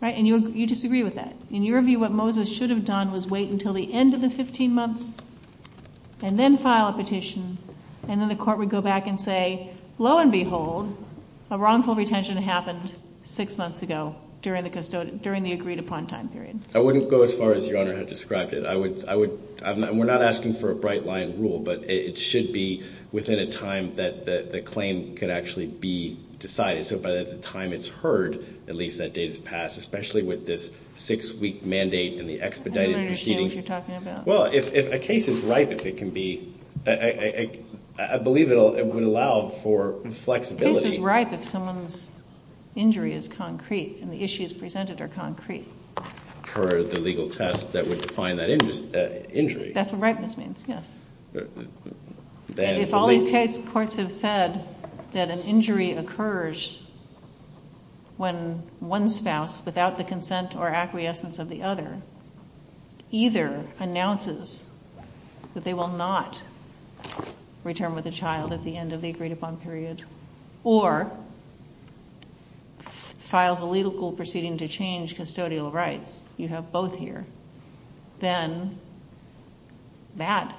And you disagree with that. In your view, what Moses should have done was wait until the end of the 15 months and then file a petition and then the court would go back and say, lo and behold, a wrongful retention happened six months ago during the agreed-upon time period. I wouldn't go as far as Your Honor has described it. We're not asking for a bright line rule, but it should be within a time that the claim could actually be decided. So by the time it's heard, at least that day has passed, especially with this six-week mandate and the expedited proceedings. Well, a case is ripe if it can be... I believe it would allow for flexibility. A case is ripe if someone's injury is concrete and the issues presented are concrete. The legal test that would define that injury. That's what ripeness means, yes. If all these case courts have said that an injury occurs when one spouse, without the consent or acquiescence of the other, either announces that they will not return with the child at the end of the agreed-upon period, or files a legal proceeding to change custodial rights, you have both here, then that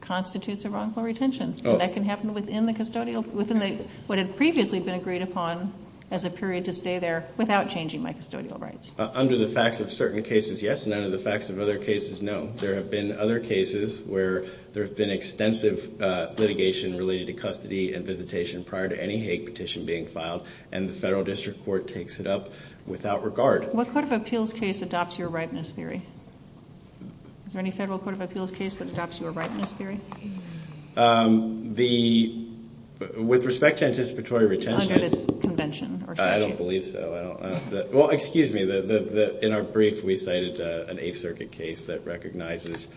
constitutes a wrongful retention. That can happen within the custodial... within what had previously been agreed-upon as a period to stay there without changing my custodial rights. Under the facts of certain cases, yes, and under the facts of other cases, no. There have been other cases where there's been extensive litigation related to custody and visitation prior to any hate petition being filed, and the federal district court takes it up without regard. What court of appeals case adopts your ripeness theory? Is there any federal court of appeals case that adopts your ripeness theory? With respect to anticipatory retention... Under this convention. I don't believe so. Well, excuse me. In our brief, we cited an Eighth Circuit case that recognizes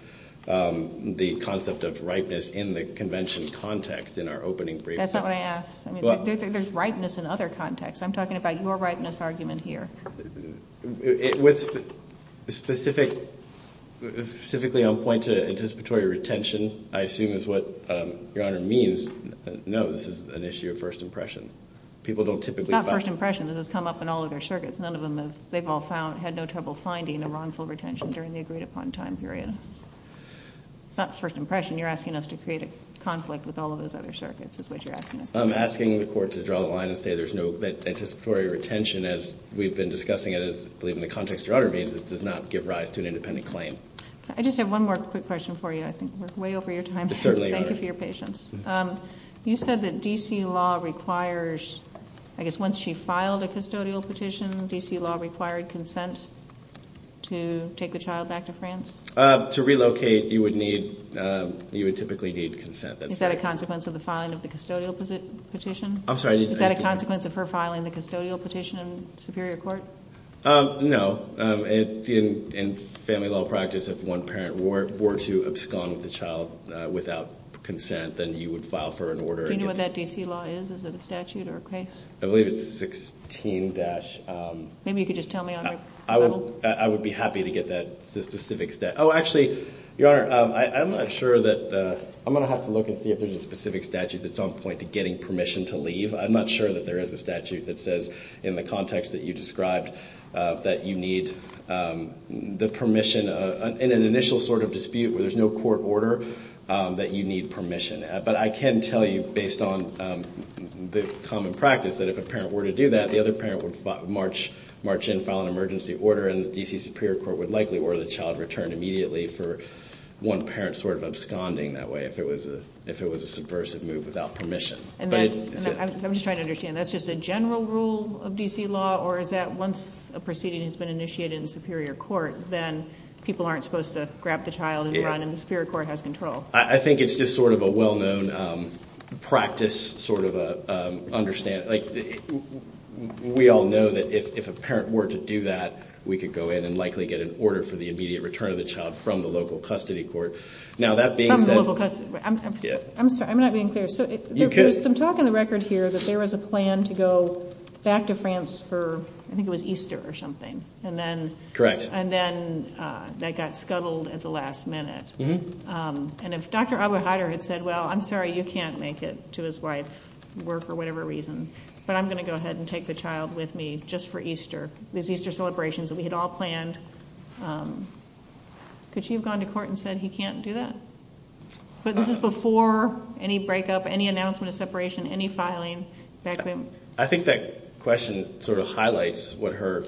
the concept of ripeness in the convention context in our opening brief. That's what I asked. There's ripeness in other contexts. I'm talking about your ripeness argument here. With specific... specifically I'm pointing to anticipatory retention I assume is what Your Honor means. No, this is an issue of first impression. People don't typically... It's not first impression. This has come up in all of their circuits. None of them have... they've all found... had no trouble finding a wrongful retention during the agreed upon time period. It's not first impression. You're asking us to create a conflict with all of those other circuits is what you're asking us to do. I'm asking the court to draw the line and say there's no... that anticipatory retention as we've been discussing in the context Your Honor made does not give rise to an independent claim. I just have one more quick question for you. I think we're way over your time. Thank you for your patience. You said that D.C. law requires... I guess once she filed a custodial petition D.C. law required consent to take the child back to France? To relocate you would need... you would typically need consent. Is that a consequence of the filing of the custodial petition? I'm sorry. Is that a consequence of her filing the custodial petition in Superior Court? No. In family law practice if one parent were to abscond with the child without consent then you would file for an order Do you know what that D.C. law is? Is it a statute or a case? I believe it's 16- Maybe you could just tell me I would be happy to get that specific... Oh actually Your Honor, I'm not sure that I'm going to have to look and see if there's a specific statute that's on point to getting permission to leave. I'm not sure that there is a statute that says in the context that you need the permission in an initial sort of dispute where there's no court order that you need permission. But I can tell you based on the common practice that if a parent were to do that the other parent would march in and file an emergency order and the D.C. Superior Court would likely order the child returned immediately for one parent sort of absconding that way if it was a subversive move without permission. I'm just trying to understand. That's just a general rule of D.C. law or is that once a proceeding has been initiated in the Superior Court, then people aren't supposed to grab the child and the Superior Court has control? I think it's just sort of a well-known practice sort of understanding. We all know that if a parent were to do that, we could go in and likely get an order for the immediate return of the child from the local custody court. From the local custody court. I'm sorry, I'm not being clear. There's some talk on the record here that there was a plan to go back to France for I think it was Easter or something. Correct. And then that got scuttled at the last minute. And if Dr. Abouhaider had said, well, I'm sorry, you can't make it to his wife's work or whatever reason, but I'm going to go ahead and take the child with me just for Easter. There's Easter celebrations that we had all planned. Could she have gone to court and said he can't do that? So this is before any breakup, any announcement of separation, any filing? I think that question sort of highlights what her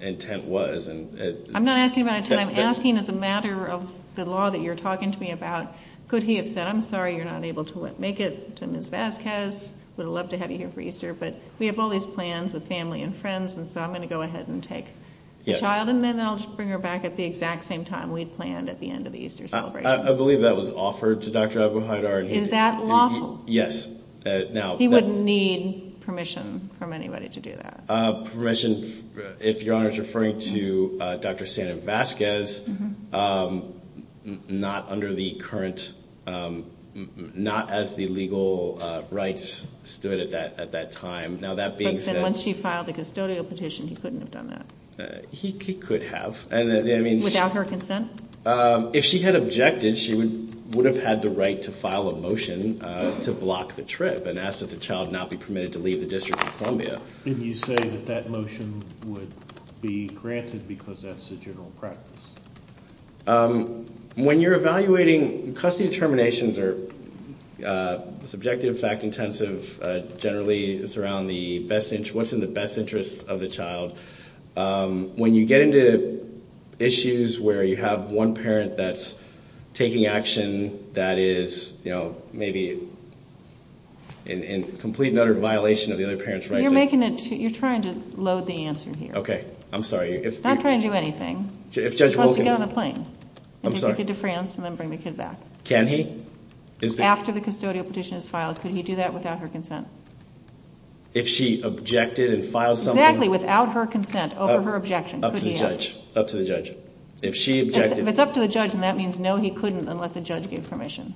intent was. I'm not asking about intent. I'm asking as a matter of the law that you're talking to me about. Could he have said, I'm sorry, you're not able to make it to Ms. Vasquez? Would have loved to have you here for Easter. But we have all these plans with family and friends, and so I'm going to go ahead and take the child and then I'll bring her back at the exact same time we planned at the end of the Easter celebration. I believe that was offered to Dr. Abouhaider. Is that lawful? Yes. He wouldn't need permission from anybody to do that. Permission, if Your Honor is referring to Dr. Santa Vasquez, not under the current, not as the legal rights stood at that time. Once she filed the custodial petition, he couldn't have done that. He could have. Without her consent? If she had objected, she would have had the right to file a motion to block the trip and ask that the child not be permitted to leave the District of Columbia. Couldn't you say that that motion would be granted because that's the general practice? When you're evaluating, custody determinations are subjective, fact-intensive, generally it's around what's in the best interest of the child. When you get into issues where you have one parent that's taking action that is, you know, maybe in complete and utter violation of the other parent's right to... You're making a... You're trying to load the answer here. Okay. I'm sorry. It's not trying to do anything. She wants to get on a plane. I'm sorry. And then bring the kid back. Can he? After the custodial petition is filed, could he do that without her consent? If she objected and filed something... Exactly, without her consent over her objection. Up to the judge. Up to the judge. If she objected... If it's up to the judge, then that means no, he couldn't unless the judge gave permission.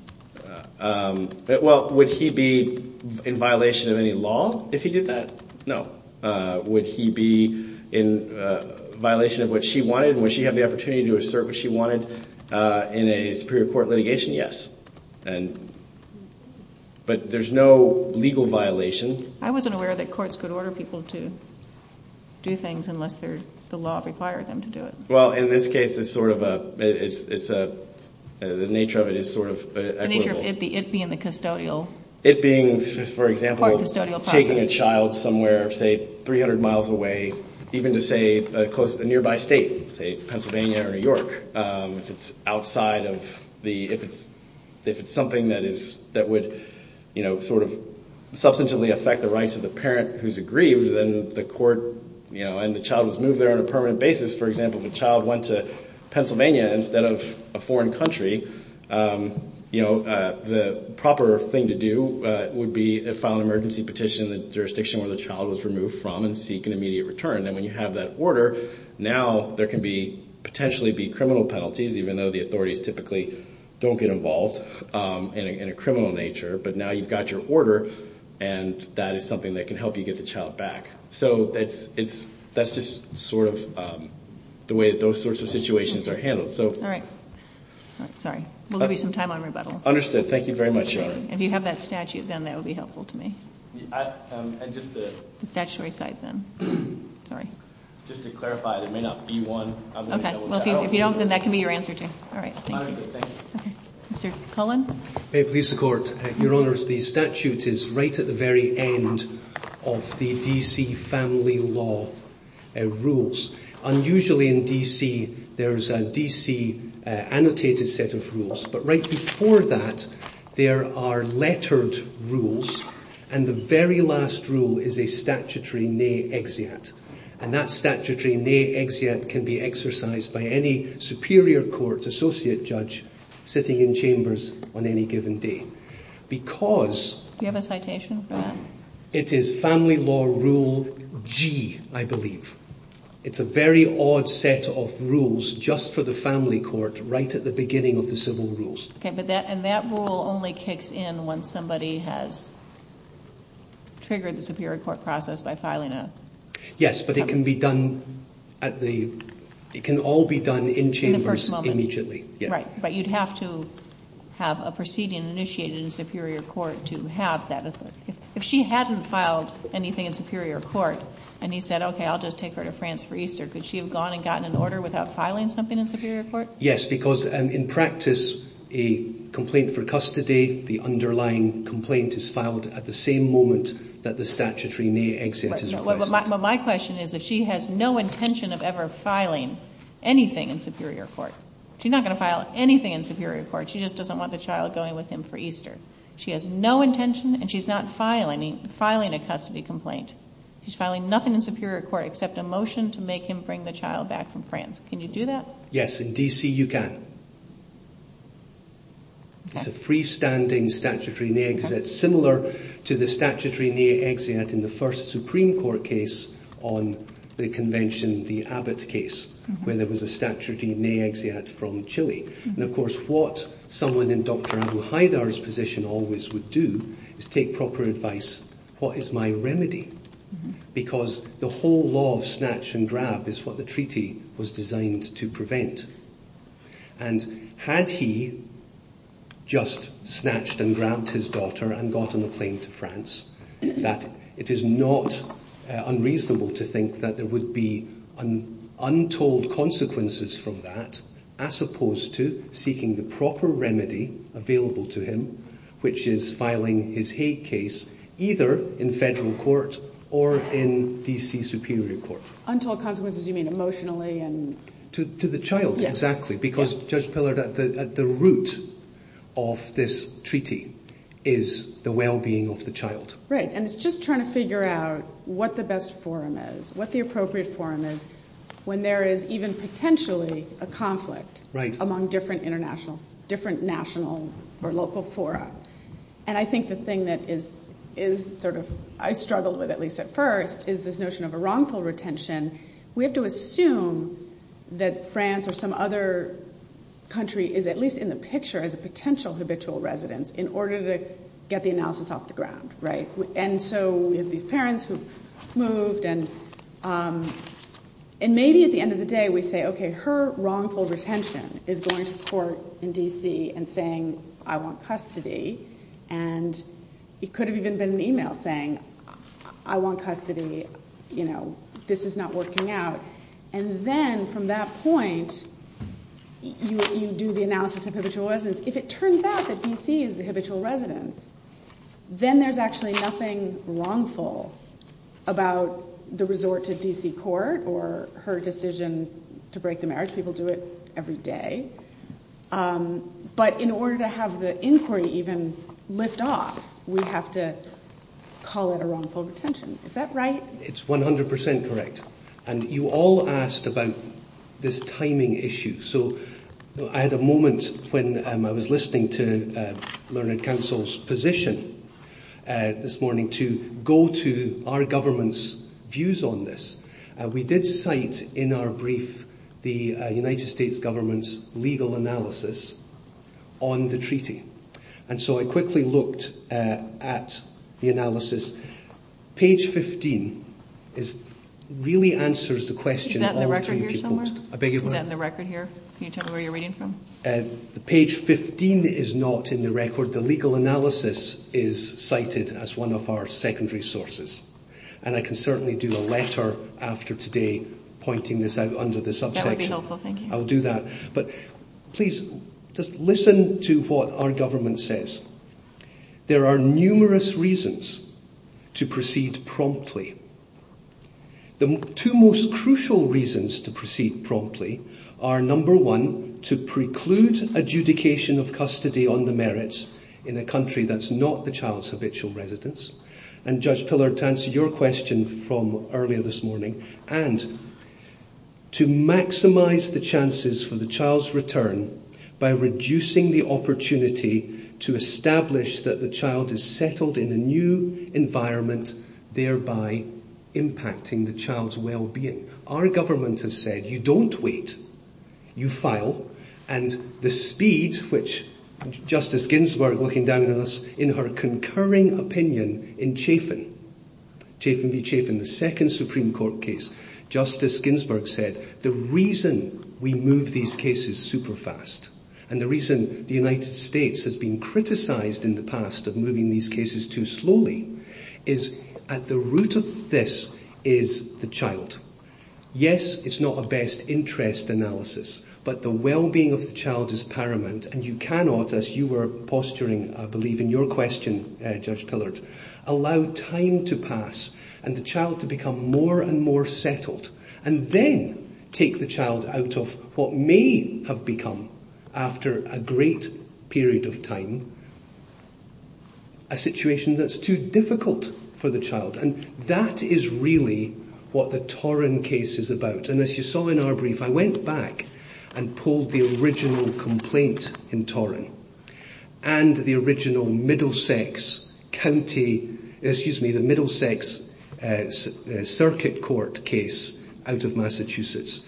Well, would he be in violation of any law if he did that? No. Would he be in violation of what she wanted? Would she have the opportunity to do a service she wanted in a superior court litigation? Yes. But there's no legal violation. I wasn't aware that courts could order people to do things unless the law required them to do it. Well, in this case, it's sort of a... It's a... The nature of it is sort of... The nature of it being the custodial... It being, for example, taking a child somewhere, say, 300 miles away, even to, say, close to a nearby state, say, Pennsylvania or New York, if it's outside of the... If it's something that would, you know, sort of substantially affect the rights of the parent who's aggrieved, then the court... You know, and the child is moved there on a permanent basis. For example, if the child went to Pennsylvania instead of a foreign country, you know, the proper thing to do would be to file an emergency petition in the jurisdiction where the child was removed from and seek an immediate return. And when you have that order, now there can be... Potentially be criminal penalties, even though the authorities typically don't get involved in a criminal nature. But now you've got your order, and that is something that can help you get the child back. So that's just sort of the way that those sorts of situations are handled. All right. Sorry. We'll give you some time on rebuttal. Understood. Thank you very much. If you have that statute, then that would be helpful to me. Statutory side, then. Sorry. Just to clarify, there may not be one. Okay. If you don't, then that can be your answer, too. All right. Mr. Cullen? Your Honours, the statute is right at the very end of the D.C. Family Law rules. Unusually in D.C., there's a D.C. annotated set of rules, but right before that, there are lettered rules, and the very last rule is a statutory nay-exeat. And that statutory nay-exeat can be exercised by any Superior Court Associate Judge sitting in chambers on any given day. Because... Do you have a citation for that? It is Family Law Rule G, I believe. It's a very odd set of rules just for the family court right at the beginning of the civil rules. And that rule only kicks in when somebody has triggered the Superior Court process by filing a... Yes, but it can be done at the... It can all be done in chambers immediately. Right, but you'd have to have a proceeding initiated in Superior Court to have that. If she hadn't filed anything in Superior Court, and he said, OK, I'll just take her to France for Easter, could she have gone and gotten an order without filing something in Superior Court? Yes, because in practice, a complaint for custody, the underlying complaint is filed at the same moment that the statutory nay-exeat is exercised. But my question is, if she has no intention of ever filing anything in Superior Court, she's not going to file anything in Superior Court, she just doesn't want the child going with him for Easter. She has no intention, and she's not filing a custody complaint. She's filing nothing in Superior Court except a motion to make him bring the child back from France. Can you do that? Yes, in D.C. you can. It's a freestanding statutory nay-exeat similar to the statutory nay-exeat in the first Supreme Court case on the Convention, the Abbott case, where there was a statutory nay-exeat from Chile. And of course, what someone in Dr. Abuhaydar's position always would do is take proper advice, what is my remedy? Because the whole law of snatch and grab is what the treaty was designed to prevent. And had he just snatched and grabbed his daughter and got on the plane to France, that it is not unreasonable to think that there would be untold consequences for that, as opposed to seeking the proper remedy available to him, which is filing his Hague case either in federal court or in D.C. Superior Court. Untold consequences, you mean emotionally and... To the child, exactly. Because, Judge Pillard, at the root of this treaty is the well-being of the child. Great. And it's just trying to figure out what the best forum is, what the appropriate forum is when there is even potentially a conflict among different national or local forums. And I think the thing that is sort of, I struggled with at least at first, is this notion of a wrongful retention. We have to assume that France or some other country is at least in the picture as a potential habitual resident in order to get the analysis off the ground. And so we have these parents who have moved and maybe at the end of the day we say, okay, her wrongful retention is going to court in D.C. and saying I want custody and it could have even been an email saying, I want custody, you know, this is not working out. And then from that point you do the analysis of habitual residents. If it turns out that D.C. is a habitual resident, then there's actually nothing wrongful about the resort to D.C. court or her decision to break the marriage. People do it every day. But in order to have the inquiry even lift off, we have to call it a wrongful retention. Is that right? It's 100% correct. And you all asked about this timing issue. So I had a moment when I was listening to Learned Council's position this morning to go to our government's views on this. We did cite in our brief the United States government's legal analysis on the treaty. And so I quickly looked at the analysis. Page 15 really answers the question. Is that in the record here somewhere? Page 15 is not in the record. The legal analysis is cited as one of our secondary sources. And I can certainly do a letter after today pointing this out under the subsection. I'll do that. But please listen to what our government says. There are numerous reasons to proceed promptly. The two most crucial reasons to proceed promptly are, number one, to preclude adjudication of custody on the merits in a country that's not the child's eviction residence. And Judge Pillard, to answer your question from earlier this morning, and to maximize the chances for the child's return by reducing the opportunity to establish that the child is settled in a new environment, thereby impacting the child's well-being. Our government has said, you don't wait. You file. And the speed, which Justice Ginsburg, looking down at us, in her concurring opinion in Chafin, Chafin v. Chafin, the second Supreme Court case, Justice Ginsburg said, the reason we move these cases super fast, and the reason the United States has been criticized in the past of moving these cases too slowly, is at the root of this is the child. Yes, it's not a best interest analysis, but the well-being of the child is paramount, and you cannot, as you were posturing, I believe, in your question, Judge Pillard, allow time to pass, and the child to become more and more settled, and then take the child out of what may have become, after a great period of time, a situation that's too difficult for the child. And that is really what the Torim case is about, and as you saw in our brief, I went back and pulled the original complaint in Torim, and the original Middlesex County, excuse me, the Middlesex Circuit Court case out of Massachusetts.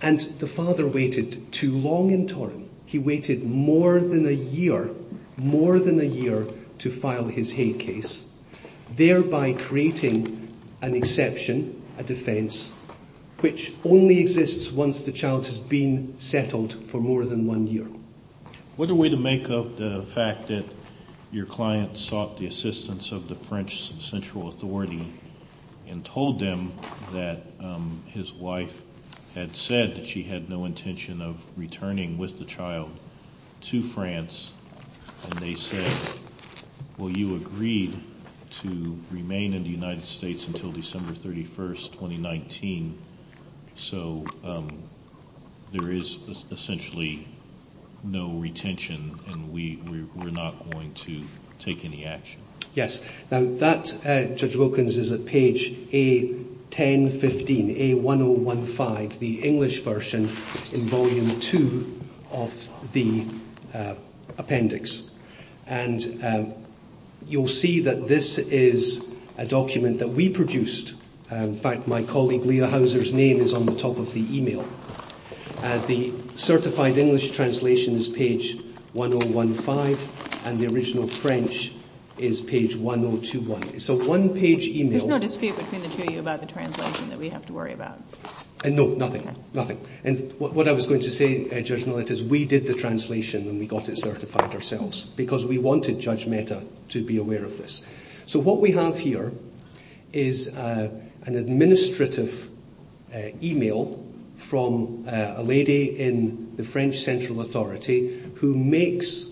And the father waited too long in Torim. He waited more than a year, more than a year, to file his Hague case, thereby creating an exception, a defense, which only exists once the child has been settled for more than one year. What a way to make up the fact that your client sought the assistance of the French Central Authority and told them that his wife had said that she had no intention of returning with the child to France, and you agreed to remain in the United States until December 31st, 2019, so there is essentially no retention and we're not going to take any action. Now that, Judge Wilkins, is at page A-10-15, A-1-0-1-5, the English version in Volume 2 of the appendix. And you'll see that this is a document that we produced. In fact, my colleague Leah Houser's name is on the top of the email. The certified English translation is page A-1-0-1-5, and the original French is page A-1-0-2-1. So one page email... It's not his favorite thing to tell you about the translation that we have to worry about. No, nothing, nothing. And what I was going to say, Judge Millett, is we did the translation ourselves, because we wanted Judge Metta to be aware of this. So what we have here is an administrative email from a lady in the French Central Authority who makes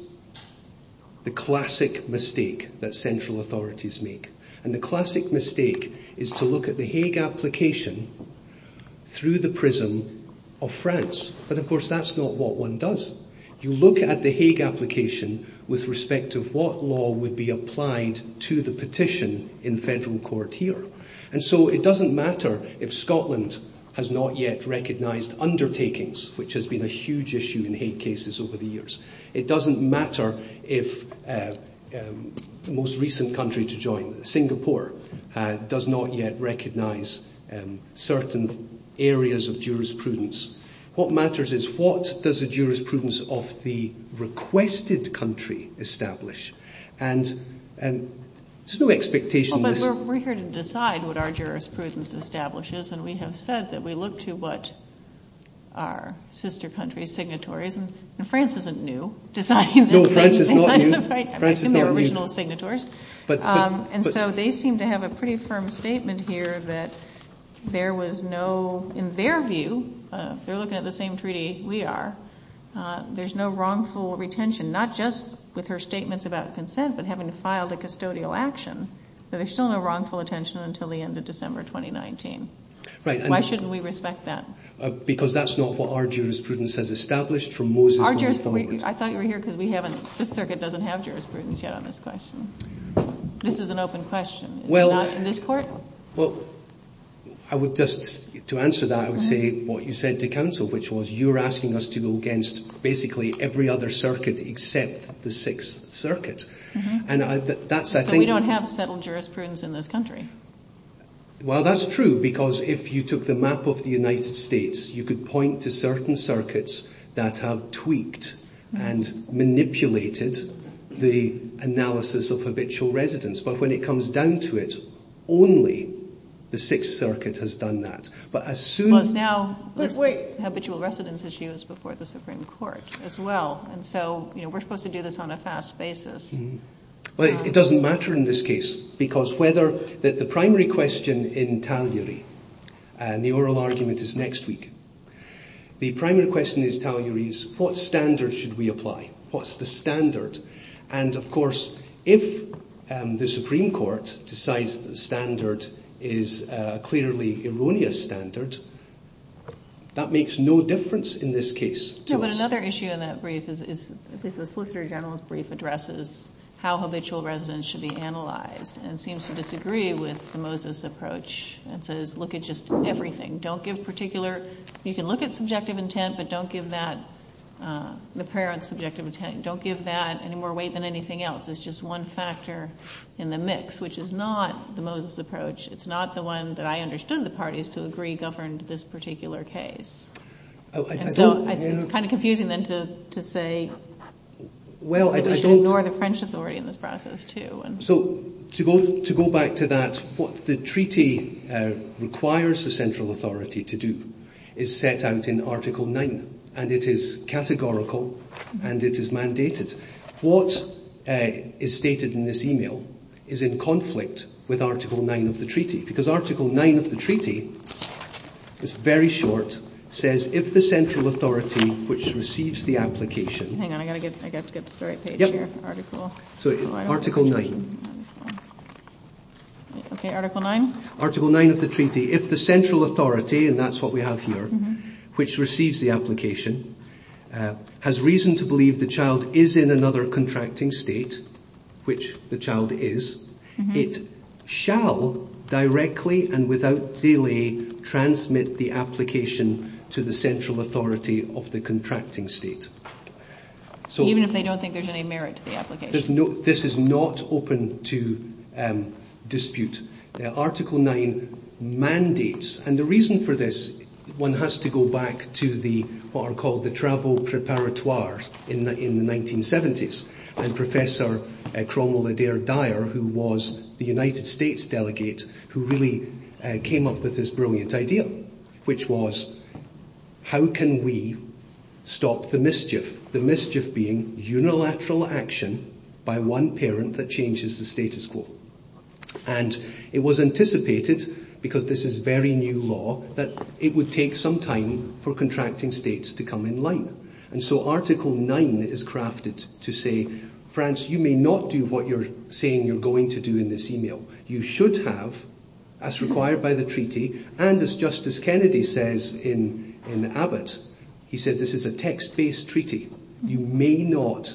the classic mistake that central authorities make. And the classic mistake is to look at the Hague application through the prism of France. But of course that's not what one does. You look at the Hague application with respect to what law would be applied to the petition in federal court here. And so it doesn't matter if Scotland has not yet recognized undertakings, which has been a huge issue in Hague cases over the years. It doesn't matter if the most recent country to join, Singapore, does not yet recognize certain areas of jurisprudence. What matters is, what does the jurisprudence of the requested country establish? And there's no expectation that... But we're here to decide what our jurisprudence establishes, and we have said that we look to what our sister country's signatory is. And France isn't new. No, France is not new. And so they seem to have a pretty firm statement here that there was no... In their view, they're looking at the same treaty we are, there's no wrongful retention, not just with her statements about consent, but having filed a custodial action. There's still no wrongful attention until the end of December 2019. Why shouldn't we respect that? Because that's not what our jurisprudence has established from Moses... I thought you were here because this circuit doesn't have jurisprudence yet on this question. This is an open question. Is it not in this court? Well, I would just... To answer that, I would say what you said to counsel, which was you're asking us to go against basically every other circuit except the Sixth Circuit. And that's I think... So we don't have settled jurisprudence in this country. Well, that's true, because if you took the map of the United States, you could point to certain circuits that have tweaked and manipulated the analysis of habitual residence. But when it comes down to it, only the Sixth Circuit has done that. But now habitual residence is used before the Supreme Court as well. And so we're supposed to do this on a fast basis. It doesn't matter in this case, because whether... The primary question in tallying, the oral argument is next week. The primary question in tallying is what standard should we apply? What's the standard? And of course the Supreme Court decides the standard is a clearly erroneous standard. That makes no difference in this case. But another issue in that brief is if the Solicitor General's brief addresses how habitual residence should be analyzed and seems to disagree with the Moses approach and says look at just everything. Don't give particular... You can look at subjective intent, but don't give that... The parent's subjective intent. Don't give that any more weight than anything else. It's just one factor in the mix, which is not the Moses approach. It's not the one that I understood the parties to agree governed this particular case. It's kind of confusing then to say we should ignore the French authority in this process too. To go back to that, the treaty requires the central authority to do is set out in Article 9. And it is categorical and it is mandated. What is stated in this email is in conflict with Article 9 of the treaty. Because Article 9 of the treaty is very short. It says if the central authority which receives the application... Article 9. Article 9 of the treaty. If the central authority, and that's what we have here, which receives the application has reason to believe the child is in another contracting state, which the child is, it shall directly and without delay transmit the application to the central authority of the contracting state. Even if they don't think there's any merit to the application. This is not open to dispute. Article 9 mandates and the reason for this, one has to go back to what are called the travel preparatoires in the 1970s. Professor Cromwell Adair Dyer who was the United States delegate, who really came up with this brilliant idea. Which was, how can we stop the mischief? The mischief being unilateral action by one parent that changes the status quo. And it was anticipated because this is very new law, that it would take some time for contracting states to come in line. And so Article 9 is crafted to say, France, you may not do what you're saying you're going to do in this email. You should have, as required by the treaty, and as Justice Kennedy says in Abbott, he said this is a text-based treaty. You may not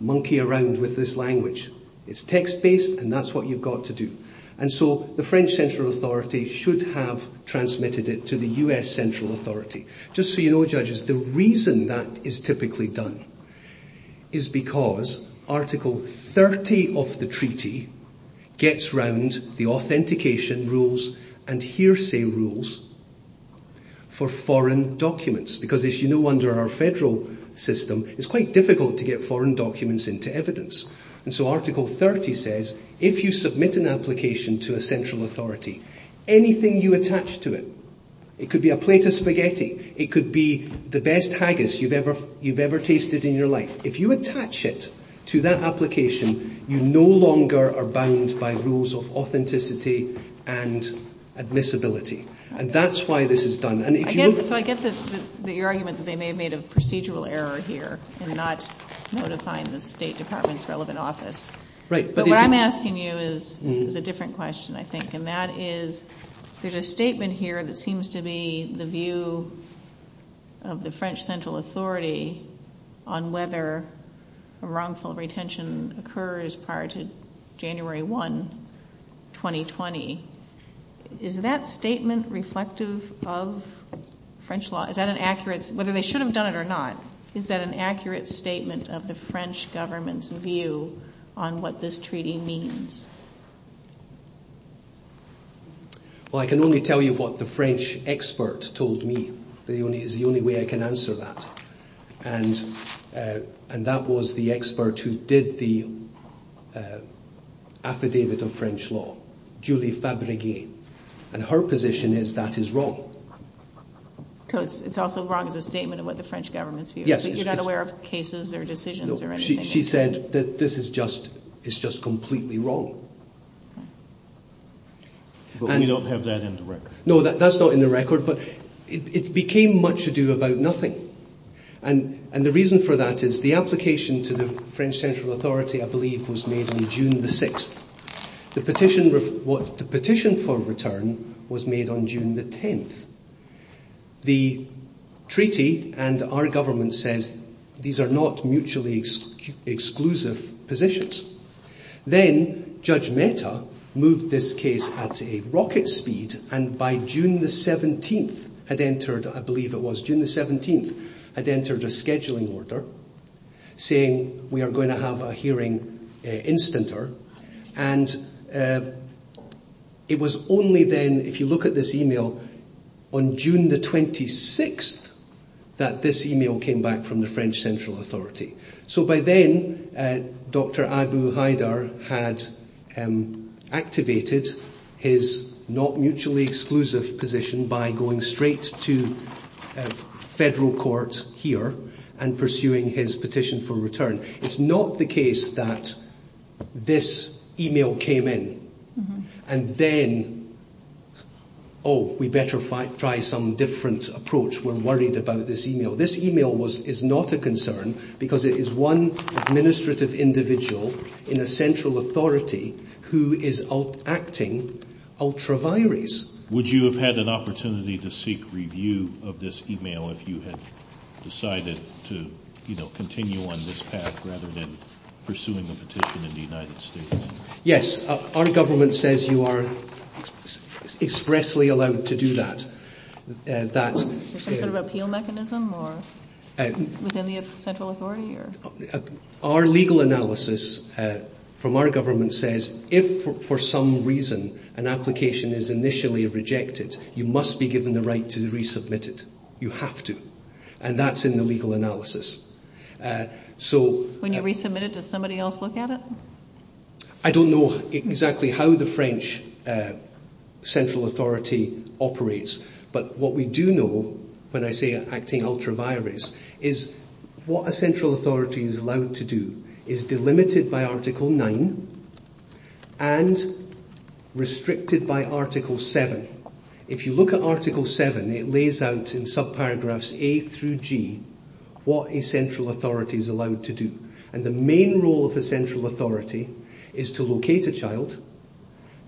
monkey around with this language. It's text-based and that's what you've got to do. And so the French Central Authority should have transmitted it to the US Central Authority. Just so you know, judges, the reason that is typically done is because Article 30 of the treaty gets round the authentication rules and hearsay rules for foreign documents. Because as you know, under our federal system, it's quite difficult to get foreign documents into evidence. And so Article 30 says, if you have a document in the federal legally binding to the federal authority. Anything you attach to it, it could be a plate of spaghetti, it could be the best haggis you've ever tasted in your life, if you attach it to that application, you no longer are bound by rules of authenticity and admissibility. And that's why this is done. So I get your argument that they should have done it or not. My question is, there's a statement here that seems to be the view of the French Central Authority on whether a wrongful retention occurs prior to January 1, 2020. Is that statement reflective of French law? Is that an accurate, whether they should have done it or not? Is that an accurate statement of the French government? Well, I can only tell you what the French experts told me. It's the only way I can answer that. And that was the expert who did the affidavit of French law. And her position is that is wrong. It's also wrong as a statement about the French government's view. You're not aware of cases or decisions or anything? She said that this is just completely wrong. But we don't have that in the record. No, that's not in the record, but it became much ado about nothing. And the reason for that is the application to the French Central Authority, I believe, was made on June the 6th. The petition for return was made on June the 10th. The treaty and our government says these are not mutually exclusive positions. Then Judge Mehta moved this case at a rocket speed and by June the 17th had entered, I believe it was June the 17th, had entered a scheduling order saying we are going to have a hearing in Stinter. And it was only then, if you look at this email, on June the 26th that this email came back from the French Central Authority. So by then, Dr. Abu Haidar had activated his not mutually exclusive position by going straight to federal court here and pursuing his petition for return. It's not the case that this email came in and then oh, we better try some different approach. We're worried about this email. This email is not a concern because it is one administrative individual in a central authority who is acting ultra-virus. Would you have had an opportunity to seek review of this email if you had decided to continue on this path rather than pursuing a petition in the United States? Yes. Our government says you are expressly allowed to do that. Our legal analysis from our government says if for some reason an application is initially rejected you must be given the right to resubmit it. You have to. And that's in the legal analysis. When you resubmit it does somebody else look at it? I don't know exactly how the French central authority operates but what we do know when I say acting ultra-virus is what a central authority is allowed to do is be limited by Article 9 and restricted by Article 7. If you look at Article 7 it lays out in sub-paragraphs A through G what a central authority is allowed to do. The main role of a central authority is to locate a child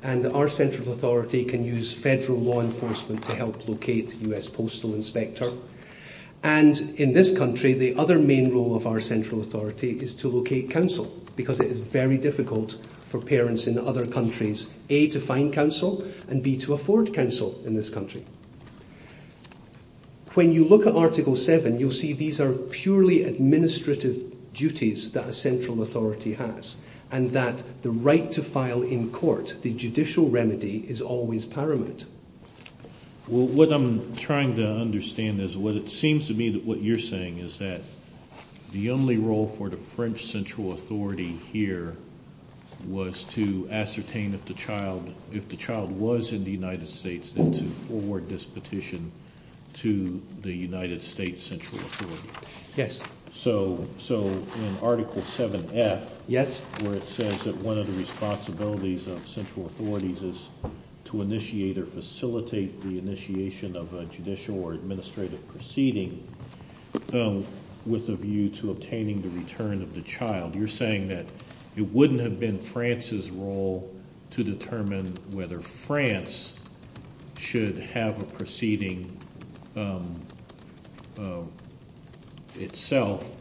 and our central authority can use federal law enforcement to help locate the U.S. Postal Inspector and in this country the other main role of our central authority is to locate counsel because it is very difficult for parents in other countries A. to find counsel and B. to afford counsel in this country. When you look at Article 7 you'll see these are purely administrative duties that the right to file in court the judicial remedy is always paramount. What I'm trying to understand is what it seems to me that what you're saying is that the only role for the French central authority here was to ascertain if the child was in the United States then to forward this petition to the United States central authority. So in Article 7 that's where it says that one of the responsibilities of central authorities is to initiate or facilitate the initiation of a judicial or administrative proceeding with a view to obtaining the return of the child. You're saying that it wouldn't have been France's role to determine whether France should have a proceeding itself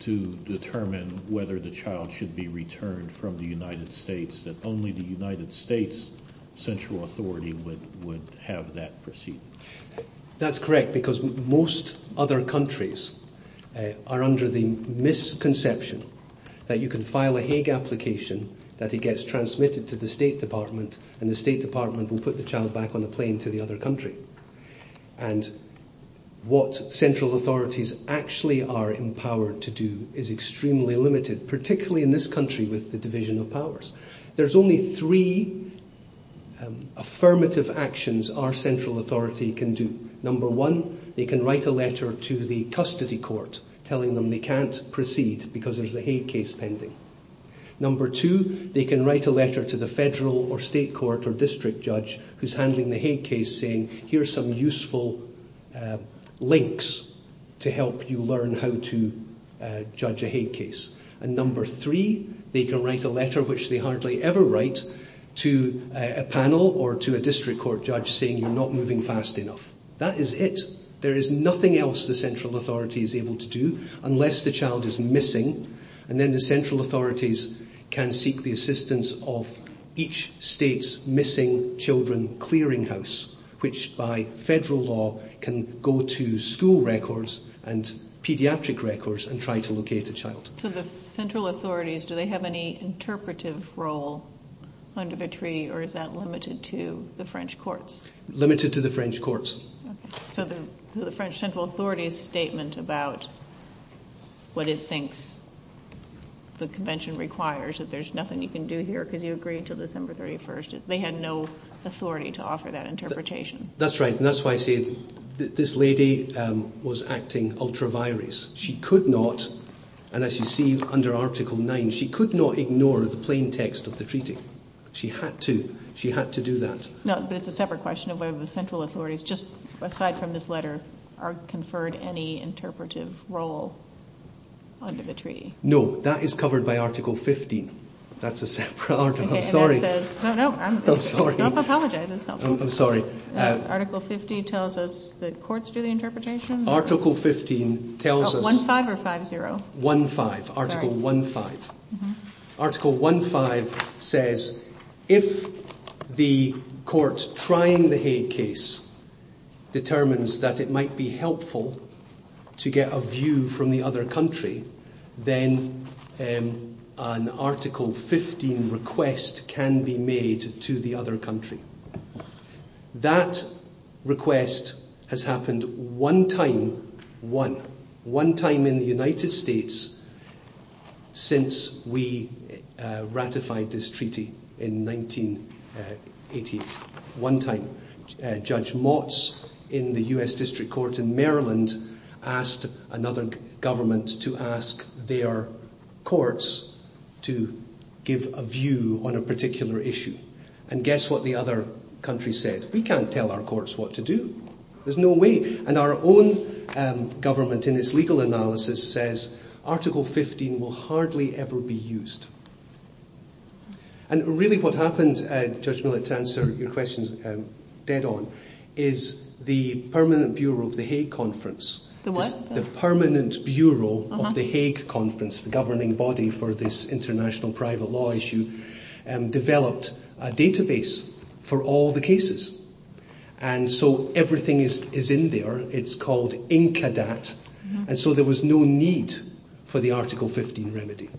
to determine whether the child should be returned from the United States that only the United States central authority would have that proceeding. That's correct because most other countries are under the misconception that you can file a Hague application that it gets transmitted to the State Department and the State Department will put the child back on a plane to the other country. What central authorities actually are empowered to do is extremely limited, particularly in this country with the division of powers. There's only three affirmative actions our central authority can do. Number one, they can write a letter to the custody court telling them they can't proceed because there's a Hague case pending. Number two, they can write a letter to the federal or state court or district judge who's handling the Hague case saying here's some useful links to help you learn how to judge a Hague case. Number three, they can write a letter which they hardly ever write to a panel or to a district court judge saying you're not moving fast enough. That is it. There is nothing else the central authority is able to do unless the child is missing and then the central authorities can seek the assistance of each state's missing children clearing house which by federal law can go to school records and pediatric records and try to locate a child. Do the central authorities have any interpretive role or is that limited to the French courts? Limited to the French courts. So the central authority's statement about what it thinks the convention requires, that there's nothing you can do here because you agree until December 31st, they had no authority to offer that interpretation. That's right, and that's why I say this lady was acting ultra-virus. She could not, and as you see under Article 9, she could not ignore the plain text of the treaty. She had to. She had to do that. No, but it's a separate question of whether the central authorities, just aside from this letter, are conferred any interpretive role under the treaty. No, that is covered by Article 15. That's a pardon. I'm sorry. Don't apologize. I'm sorry. Article 15 tells us that courts do the interpretation. Article 15 tells us Oh, 1-5 or 5-0? 1-5. Article 1-5. Article 1-5 says if the courts prime the Hague case determines that it might be helpful to get a view from the other country, then an Article 15 request can be made to the other country. That request has happened one time. One. One time in the United States since we ratified this treaty in 1988. One time. Judge Motz in the U.S. District Court in Maryland asked another government to ask their courts to give a view on a particular issue. And guess what the other countries said? We can't tell our courts what to do. There's no way. And our own government in its legal analysis says Article 15 will hardly ever be used. And really what happened, Judge Motz, to answer your questions dead on, is the Permanent Bureau of the Hague Conference The what? The Permanent Bureau of the Hague Conference, the governing body for this international private law issue, developed a database for all the cases. And so everything is in there. It's called INCADAT. And so there was no need for the Article 15 remedy.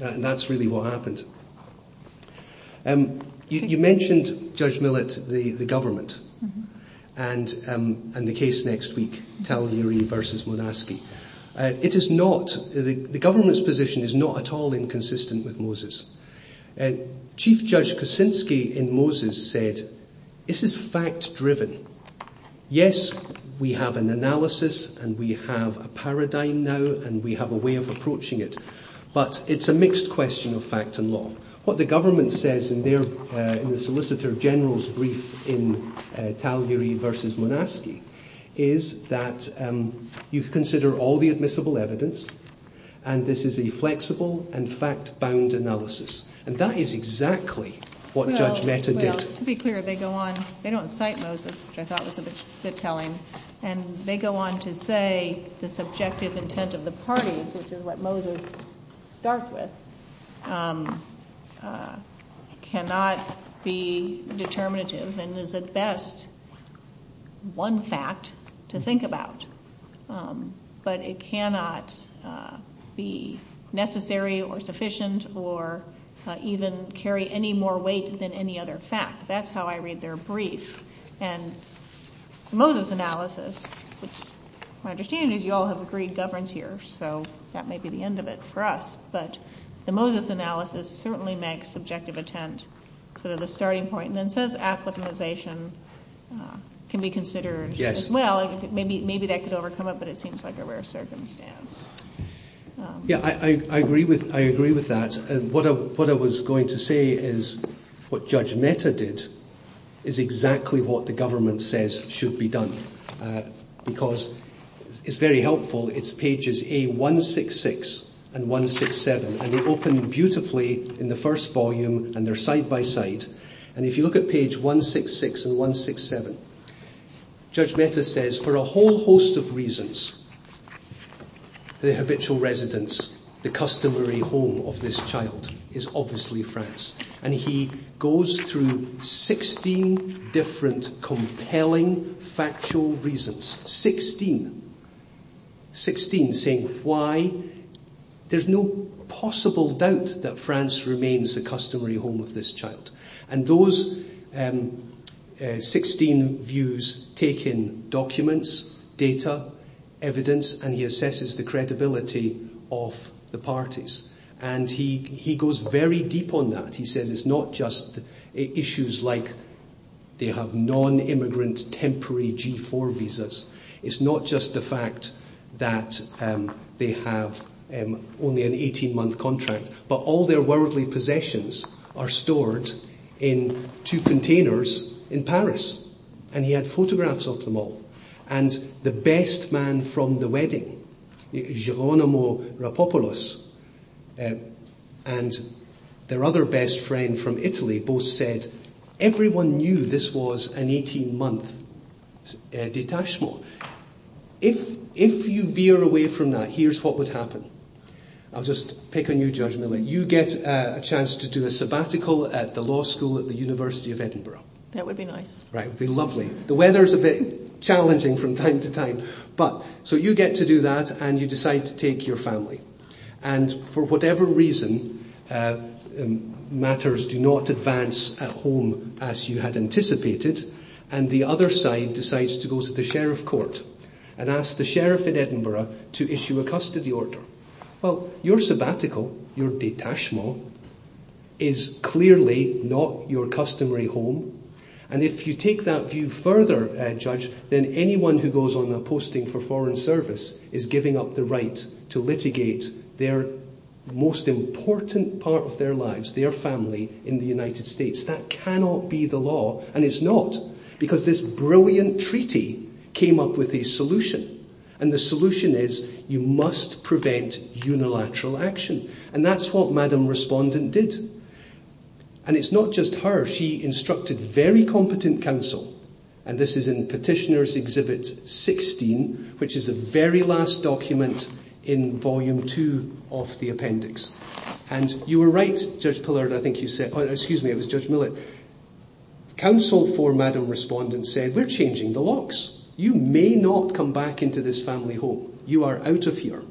And that's really what happened. You mentioned, Judge Millett, the government. And the case next week, Talgary v. Monaski. The government's position is not at all inconsistent with Moses. Chief Judge Kuczynski in Moses said, this is fact-driven. Yes, we have an analysis, and we have a paradigm now, and we have a way of approaching it. But it's a mixed question of fact and law. What the government says in the Solicitor General's brief in Talgary v. Monaski is that you consider all the admissible evidence, and this is a flexible and fact-bound analysis. And that is exactly what Judge Meta did. To be clear, they don't cite Moses, which I thought was a bit telling. And they go on to say the subjective intent of the parties, which is what Moses starts with, cannot be determinative, and is at best one fact to think about. But it cannot be necessary or sufficient or even carry any more weight than any other fact. That's how I read their brief. And the Moses analysis, which my understanding is you all have agreed governance here, so that may be the end of it for us. But the Moses analysis certainly makes subjective intent sort of the starting point. And it says application can be considered as well. Maybe that could overcome it, but it seems like a rare circumstance. Yeah, I agree with that. And what I was going to say is what Judge Meta did is exactly what the government says should be done. Because it's very helpful. It's pages A166 and 167. And they open beautifully in the first volume and they're side by side. And if you look at page 166 and 167, Judge Meta says for a whole host of reasons the habitual residence, the customary home of this child is obviously France. And he goes through 16 different compelling factual reasons. 16. 16 saying why there's no possible doubt that France remains the customary home of this child. And those 16 views take in documents, data, evidence, and he assesses the credibility of the parties. And he goes very deep on that. He says it's not just issues like they have non-immigrant temporary G4 visas. It's not just the fact that they have only an 18 month contract. But all their worldly possessions are stored in two containers in Paris. And he had photographs of them all. And the best man from the wedding, Geronimo Rapopulos, and their other best friend from Italy both said everyone knew this was an 18 month detachment. If you veer away from that, here's what would happen. I'll just pick a new judgment. You get a chance to do a sabbatical at the law school at the University of Edinburgh. The weather's a bit challenging from time to time. So you get to do that and you decide to take your family. And for whatever reason, matters do not advance at home as you had anticipated. And the other side decides to go to the sheriff court and ask the sheriff in Edinburgh to issue a custody order. Well, your sabbatical, your détachement, is clearly not your customary home. And if you take that view further, Judge, then anyone who goes on a posting for foreign service is giving up the right to litigate their most important part of their lives, their family, in the United States. That cannot be the case. So, the brilliant treaty came up with a solution. And the solution is you must prevent unilateral action. And that's what Madam Respondent did. And it's not just her. She instructed very competent counsel, and this is in Petitioner's Exhibit 16, which is the very last document in Volume 2 of the appendix. And you were right, Judge Millett, counsel for Madam Respondent said, we're changing the locks. You may not come back into this family home. You are out of here.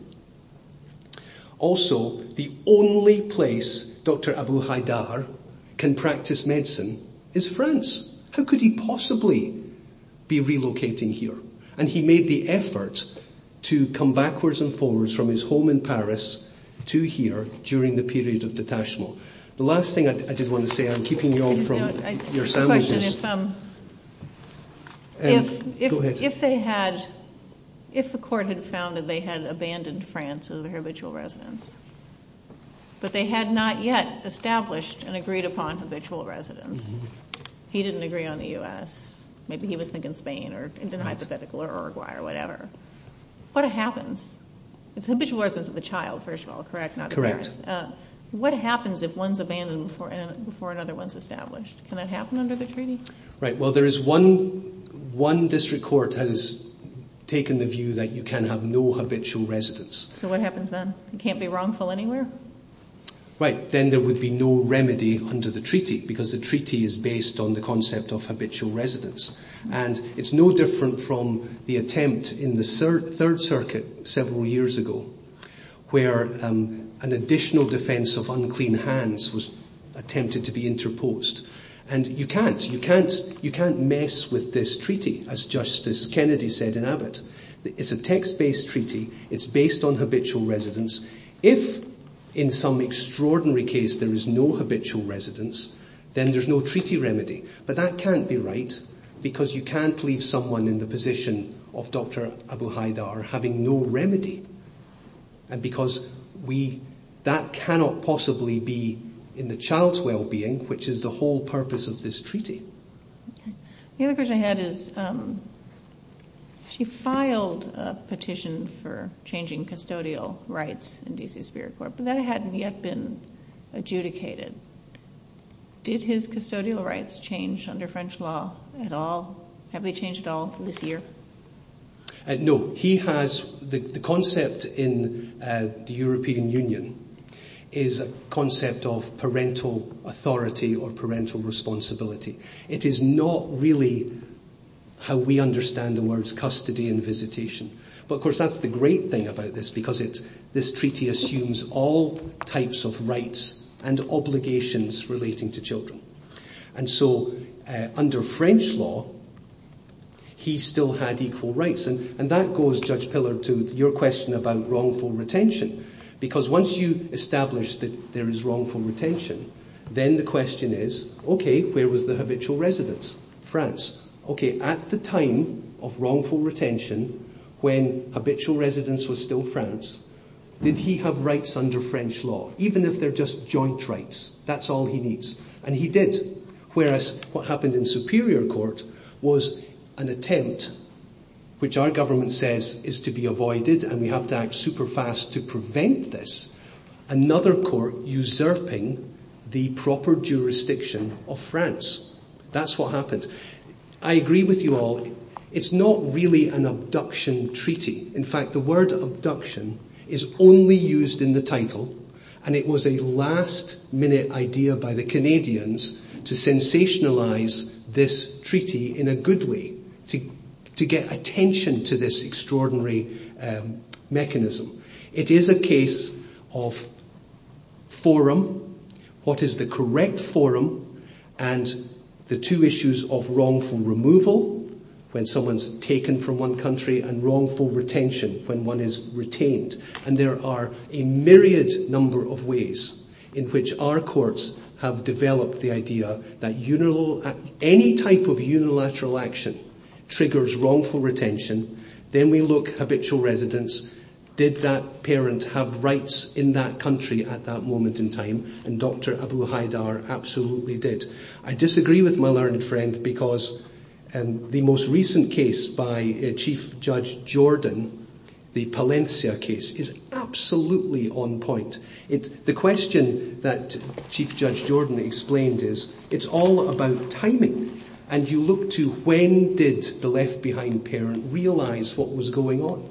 Also, the only place Dr. Abu Haidar can practice medicine is France. How could he possibly be relocating here? And he made the effort to come backwards and forwards from his home in Paris to here during the period of detention. The last thing I did want to say, I'm keeping you all from your sandwiches. Go ahead. If they had, if the court had found that they had abandoned France as a habitual residence, but they had not yet established and agreed upon habitual residence, he didn't agree on the U.S. Maybe he was thinking Spain or Uruguay or whatever. What happens? It's habitual residence of the child, first of all, correct? What happens if one's abandoned before another one's established? Can that happen under the treaty? Well, there's one district court that has taken the view that you can have no habitual residence. So what happens then? You can't be wrongful anywhere? Then there would be no remedy under the treaty because the treaty is based on the concept of habitual residence. And it's no different from the attempt in the Third World War where an additional defense of unclean hands was attempted to be interposed. And you can't mess with this treaty, as Justice Kennedy said in Abbott. It's a text-based treaty. It's based on habitual residence. If, in some extraordinary case, there is no habitual residence, then there's no treaty remedy. But that can't be right because you can't leave someone in the position of Dr. Abu Haidar having no remedy. Because that cannot possibly be in the child's well-being, which is the whole purpose of this treaty. The other question I had is she filed a petition for changing custodial rights in D.C. Superior Court, but that hadn't yet been adjudicated. Did his custodial rights change under French law at all? Have they changed at all this year? No. The concept in the European Union is a concept of parental authority or parental responsibility. It is not really how we understand the words custody and visitation. But, of course, that's the great thing about this because this treaty assumes all types of rights and obligations relating to children. Under French law, he still had equal rights. And that goes, Judge Pillar, to your question about wrongful retention. Because once you establish that there is wrongful retention, then the question is, okay, where was the habitual residence? France. Okay, at the time of wrongful retention, when habitual residence was still France, did he have rights under French law, even if they're just joint rights? That's all he needs. And he did. Whereas, what he did was an attempt, which our government says is to be avoided, and we have to act super fast to prevent this, another court usurping the proper jurisdiction of France. That's what happened. I agree with you all. It's not really an abduction treaty. In fact, the word abduction is only used in the title, and it was a last-minute idea by the Canadians to sensationalize this treaty in a good way, to get attention to this extraordinary mechanism. It is a case of forum, what is the correct forum, and the two issues of wrongful removal, when someone's taken from one country, and wrongful retention, when one is retained. And there are a myriad number of ways in which our courts have developed the idea that any type of unilateral action triggers wrongful retention. Then we look at habitual residents. Did that parent have rights in that country at that moment in time? And Dr. Abu Haidar absolutely did. I disagree with my learned friend because the most recent case by Chief Judge Jordan, the Palencia case, is absolutely on point. The question that Chief Judge Jordan explained is it's all about timing, and you look to when did the left-behind parent realize what was going on?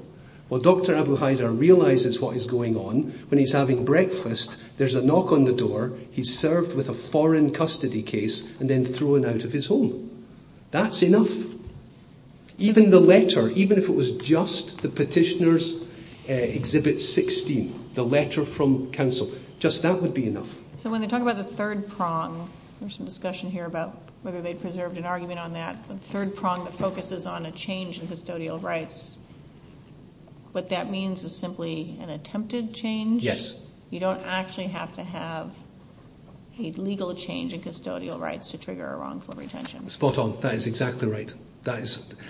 Well, Dr. Abu Haidar realizes what is going on when he's having breakfast, there's a knock on the door, he's served with a foreign custody case, and then thrown out of his home. That's enough. Even the letter, even if it was just the petitioner's Exhibit 16, the letter from counsel, just that would be enough. So when they talk about the third prong, there's some discussion here about whether they preserved an argument on that, the third prong that focuses on a change in custodial rights, what that means is simply an attempted change? Yes. You don't actually have to have a legal change in custodial rights to trigger a wrongful retention. Spot on. That is exactly right.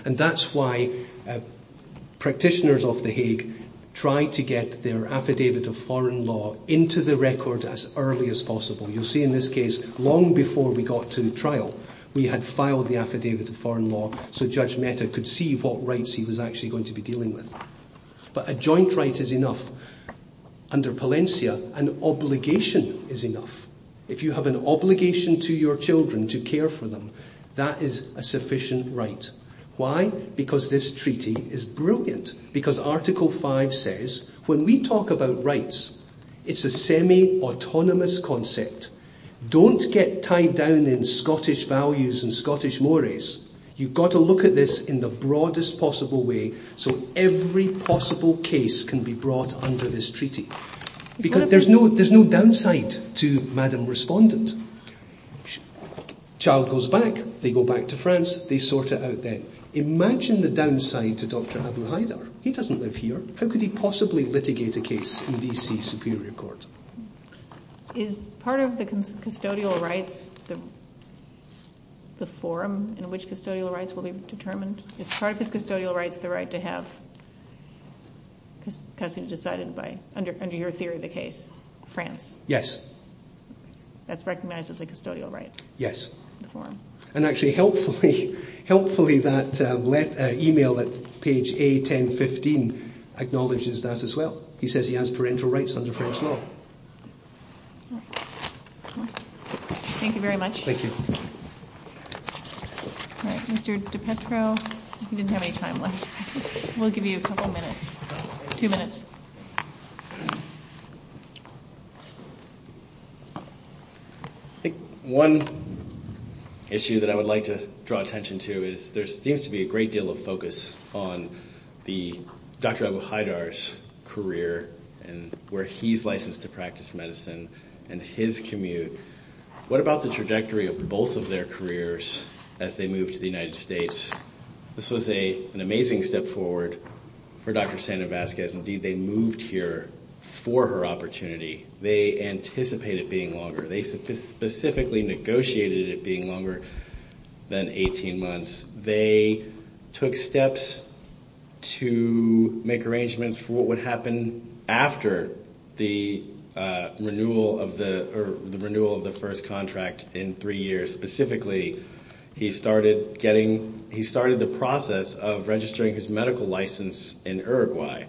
And that's why practitioners of the Hague try to get their affidavit of foreign law into the record as early as possible. You'll see in this case long before we got to the trial we had filed the affidavit of foreign law so Judge Mehta could see what rights he was actually going to be dealing with. But a joint right is enough. Under Palencia, an obligation is enough. If you have an obligation to your children to care for them, that is a sufficient right. Why? Because this treaty is brilliant. Because Article 5 says, when we talk about rights, it's a semi autonomous concept. Don't get tied down in Scottish values and Scottish mores. You've got to look at this in the broadest possible way so every possible case can be brought under this treaty. Because there's no downside to Madam Respondent. Child goes back, they go back to France, they sort it out then. Imagine the downside to Dr. Abouhaider. He doesn't live here. How could he possibly litigate a case in B.C. Superior Court? Is part of the custodial rights the form in which custodial rights will be determined? Is part of the custodial rights the right to have custody decided by, under your theory of the case, France? Yes. That's recognized as a custodial right. Yes. Actually, helpfully, that email at page A-10-15 acknowledges that as well. He says he has parental rights under First Law. Thank you very much. Mr. DiPetro, you didn't have any time left. We'll give you a couple of minutes. Two minutes. One issue that I would like to draw attention to is there seems to be a great deal of focus on the Dr. Abouhaider's career and where he's licensed to practice medicine and his commute. What about the trajectory of both of their careers as they move to the United States? This was an amazing step forward for Dr. Sandevazquez. They moved here for her opportunity. They anticipated it being longer. They specifically negotiated it being longer than 18 months. They took steps to make arrangements for what would happen after the renewal of the first contract in three years. Specifically, he started the process of registering his medical license in Uruguay.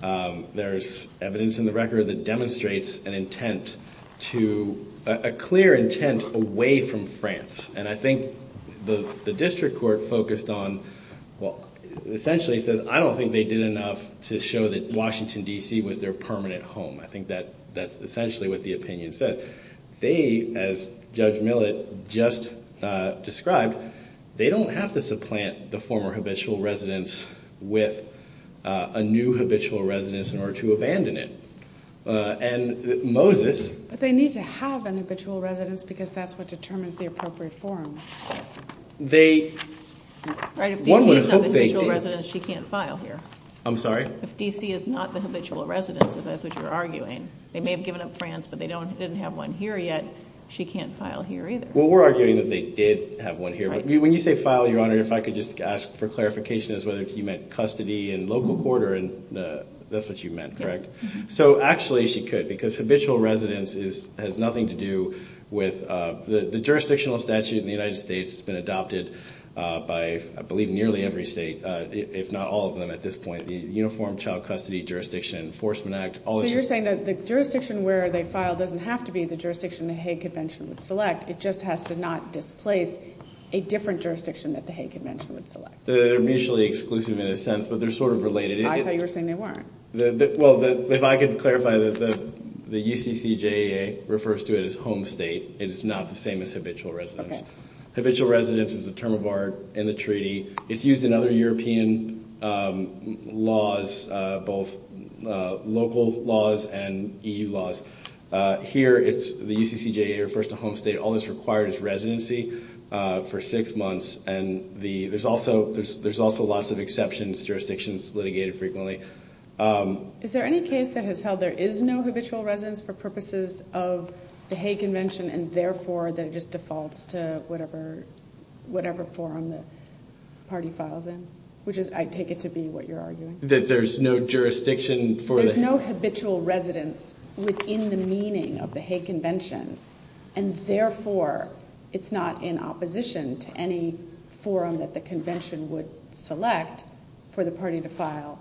There's evidence in the record that demonstrates a clear intent away from France. I think the district court focused on essentially said, I don't think they did enough to show that Washington, D.C. was their permanent home. That's essentially what the opinion says. They, as Judge Millett just described, they don't have to supplant the former habitual residence with a new habitual residence and are to abandon it. And Moses... But they need to have a habitual residence because that's what determines the appropriate form. They... Right, if D.C. is not the habitual residence, she can't file here. I'm sorry? If D.C. is not the habitual residence, as you're arguing, they may have given up France, but they didn't have one here yet, she can't file here either. Well, we're arguing that they did have one here. When you say file, Your Honor, if I could just ask for clarification as to whether you meant custody and local quarter and... That's what you meant, correct? So actually she could because habitual residence has nothing to do with... The jurisdictional statute in the United States has been adopted by, I believe, nearly every state if not all of them at this point. The Uniform Child Custody Jurisdiction Enforcement Act... So you're saying that the jurisdiction where they filed doesn't have to be the jurisdiction the Hague Convention would select. It just has to not displace a different jurisdiction that the Hague Convention would select. They're mutually exclusive in a sense, but they're sort of related. I thought you were saying they weren't. Well, if I could clarify the UCCJA refers to it as home state. It's not the same as habitual residence. Habitual residence is a term of art in the treaty. It's used in other European laws, both local laws and EU laws. Here it's, the UCCJA refers to home state. All that's required is residency for six years. There's also lots of exceptions, jurisdictions litigated frequently. Is there any case that has held there is no habitual residence for purposes of the Hague Convention and therefore that it just defaults to whatever forum the party files in? Which I take it to be what you're arguing. That there's no jurisdiction for... There's no habitual residence within the meaning of the Hague Convention and therefore it's not in opposition to any forum that the convention would select for the party to file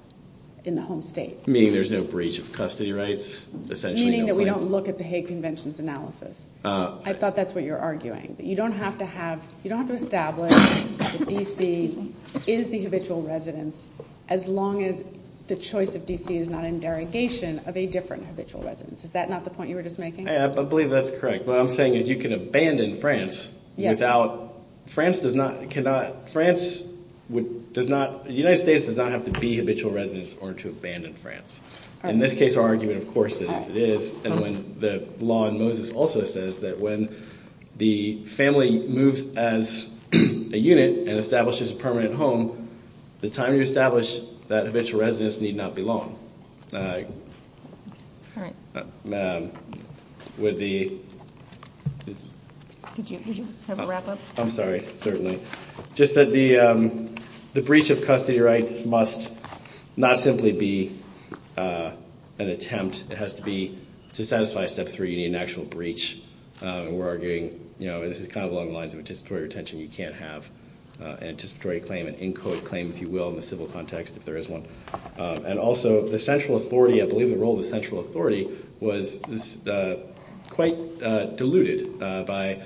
in the home state. Meaning there's no breach of custody rights? Meaning that we don't look at the Hague Convention's analysis. I thought that's what you're arguing. You don't have to establish that DC is the habitual residence as long as the choice of DC is not in derogation of a different habitual residence. Is that not the point you were just making? I believe that's correct. What I'm saying is you can abandon the convention in France without... France does not... France does not... The United States does not have to be habitual residence or to abandon France. In this case I'm arguing of course that it is and when the law in Moses also says that when the family moves as a unit and establishes a permanent home, the time you establish that habitual residence need not be long. All right. All right. Would the... Could you have a wrap up? I'm sorry. Certainly. Just that the breach of custody rights must not simply be an attempt. It has to be to satisfy Step 3, an actual breach. We're arguing this is kind of along the lines of participatory retention you can't have. A participatory claim, an in code claim if you will in the civil law context if there is one. Also the central authority, I believe the role of the central authority was quite diluted by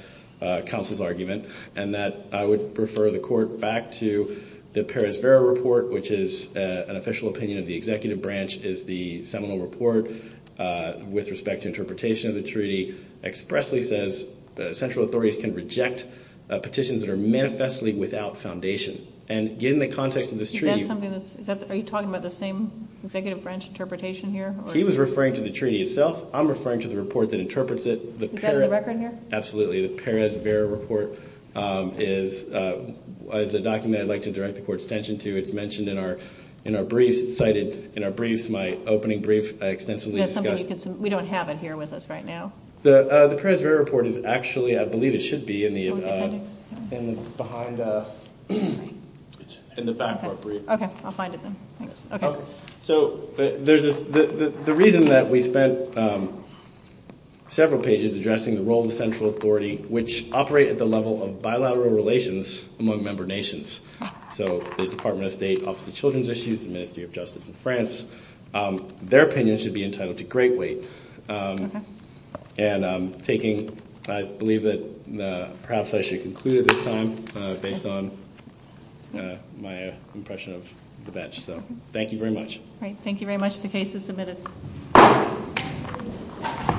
counsel's argument and that I would refer the court back to the Perez-Vera report which is an official opinion of the executive branch is the seminal report with respect to interpretation of the treaty expressly says central authorities can reject petitions that are manifestly without foundation. And in the context of this treaty... Are you talking about the same executive branch interpretation here? He was referring to the treaty itself. I'm referring to the report that interprets it. Is that on the record here? Absolutely. The Perez-Vera report is a document I'd like to direct the court's attention to. It's mentioned in our brief, cited in our brief to my opening brief. We don't have it here with us right now. The Perez-Vera report is actually, I believe it should be in the back of our brief. I'll find it then. The reason that we spent several pages addressing the role of the central authority which operate at the level of bilateral relations among member nations so the Department of State, Office of Children's Issues, the Ministry of Justice in France, their opinion should be entitled to greatly. And I'm taking, I believe that perhaps I should conclude at this time based on my impression of the bench. Thank you very much. Thank you very much. The case is submitted. The case is submitted. The case is submitted. The case is submitted.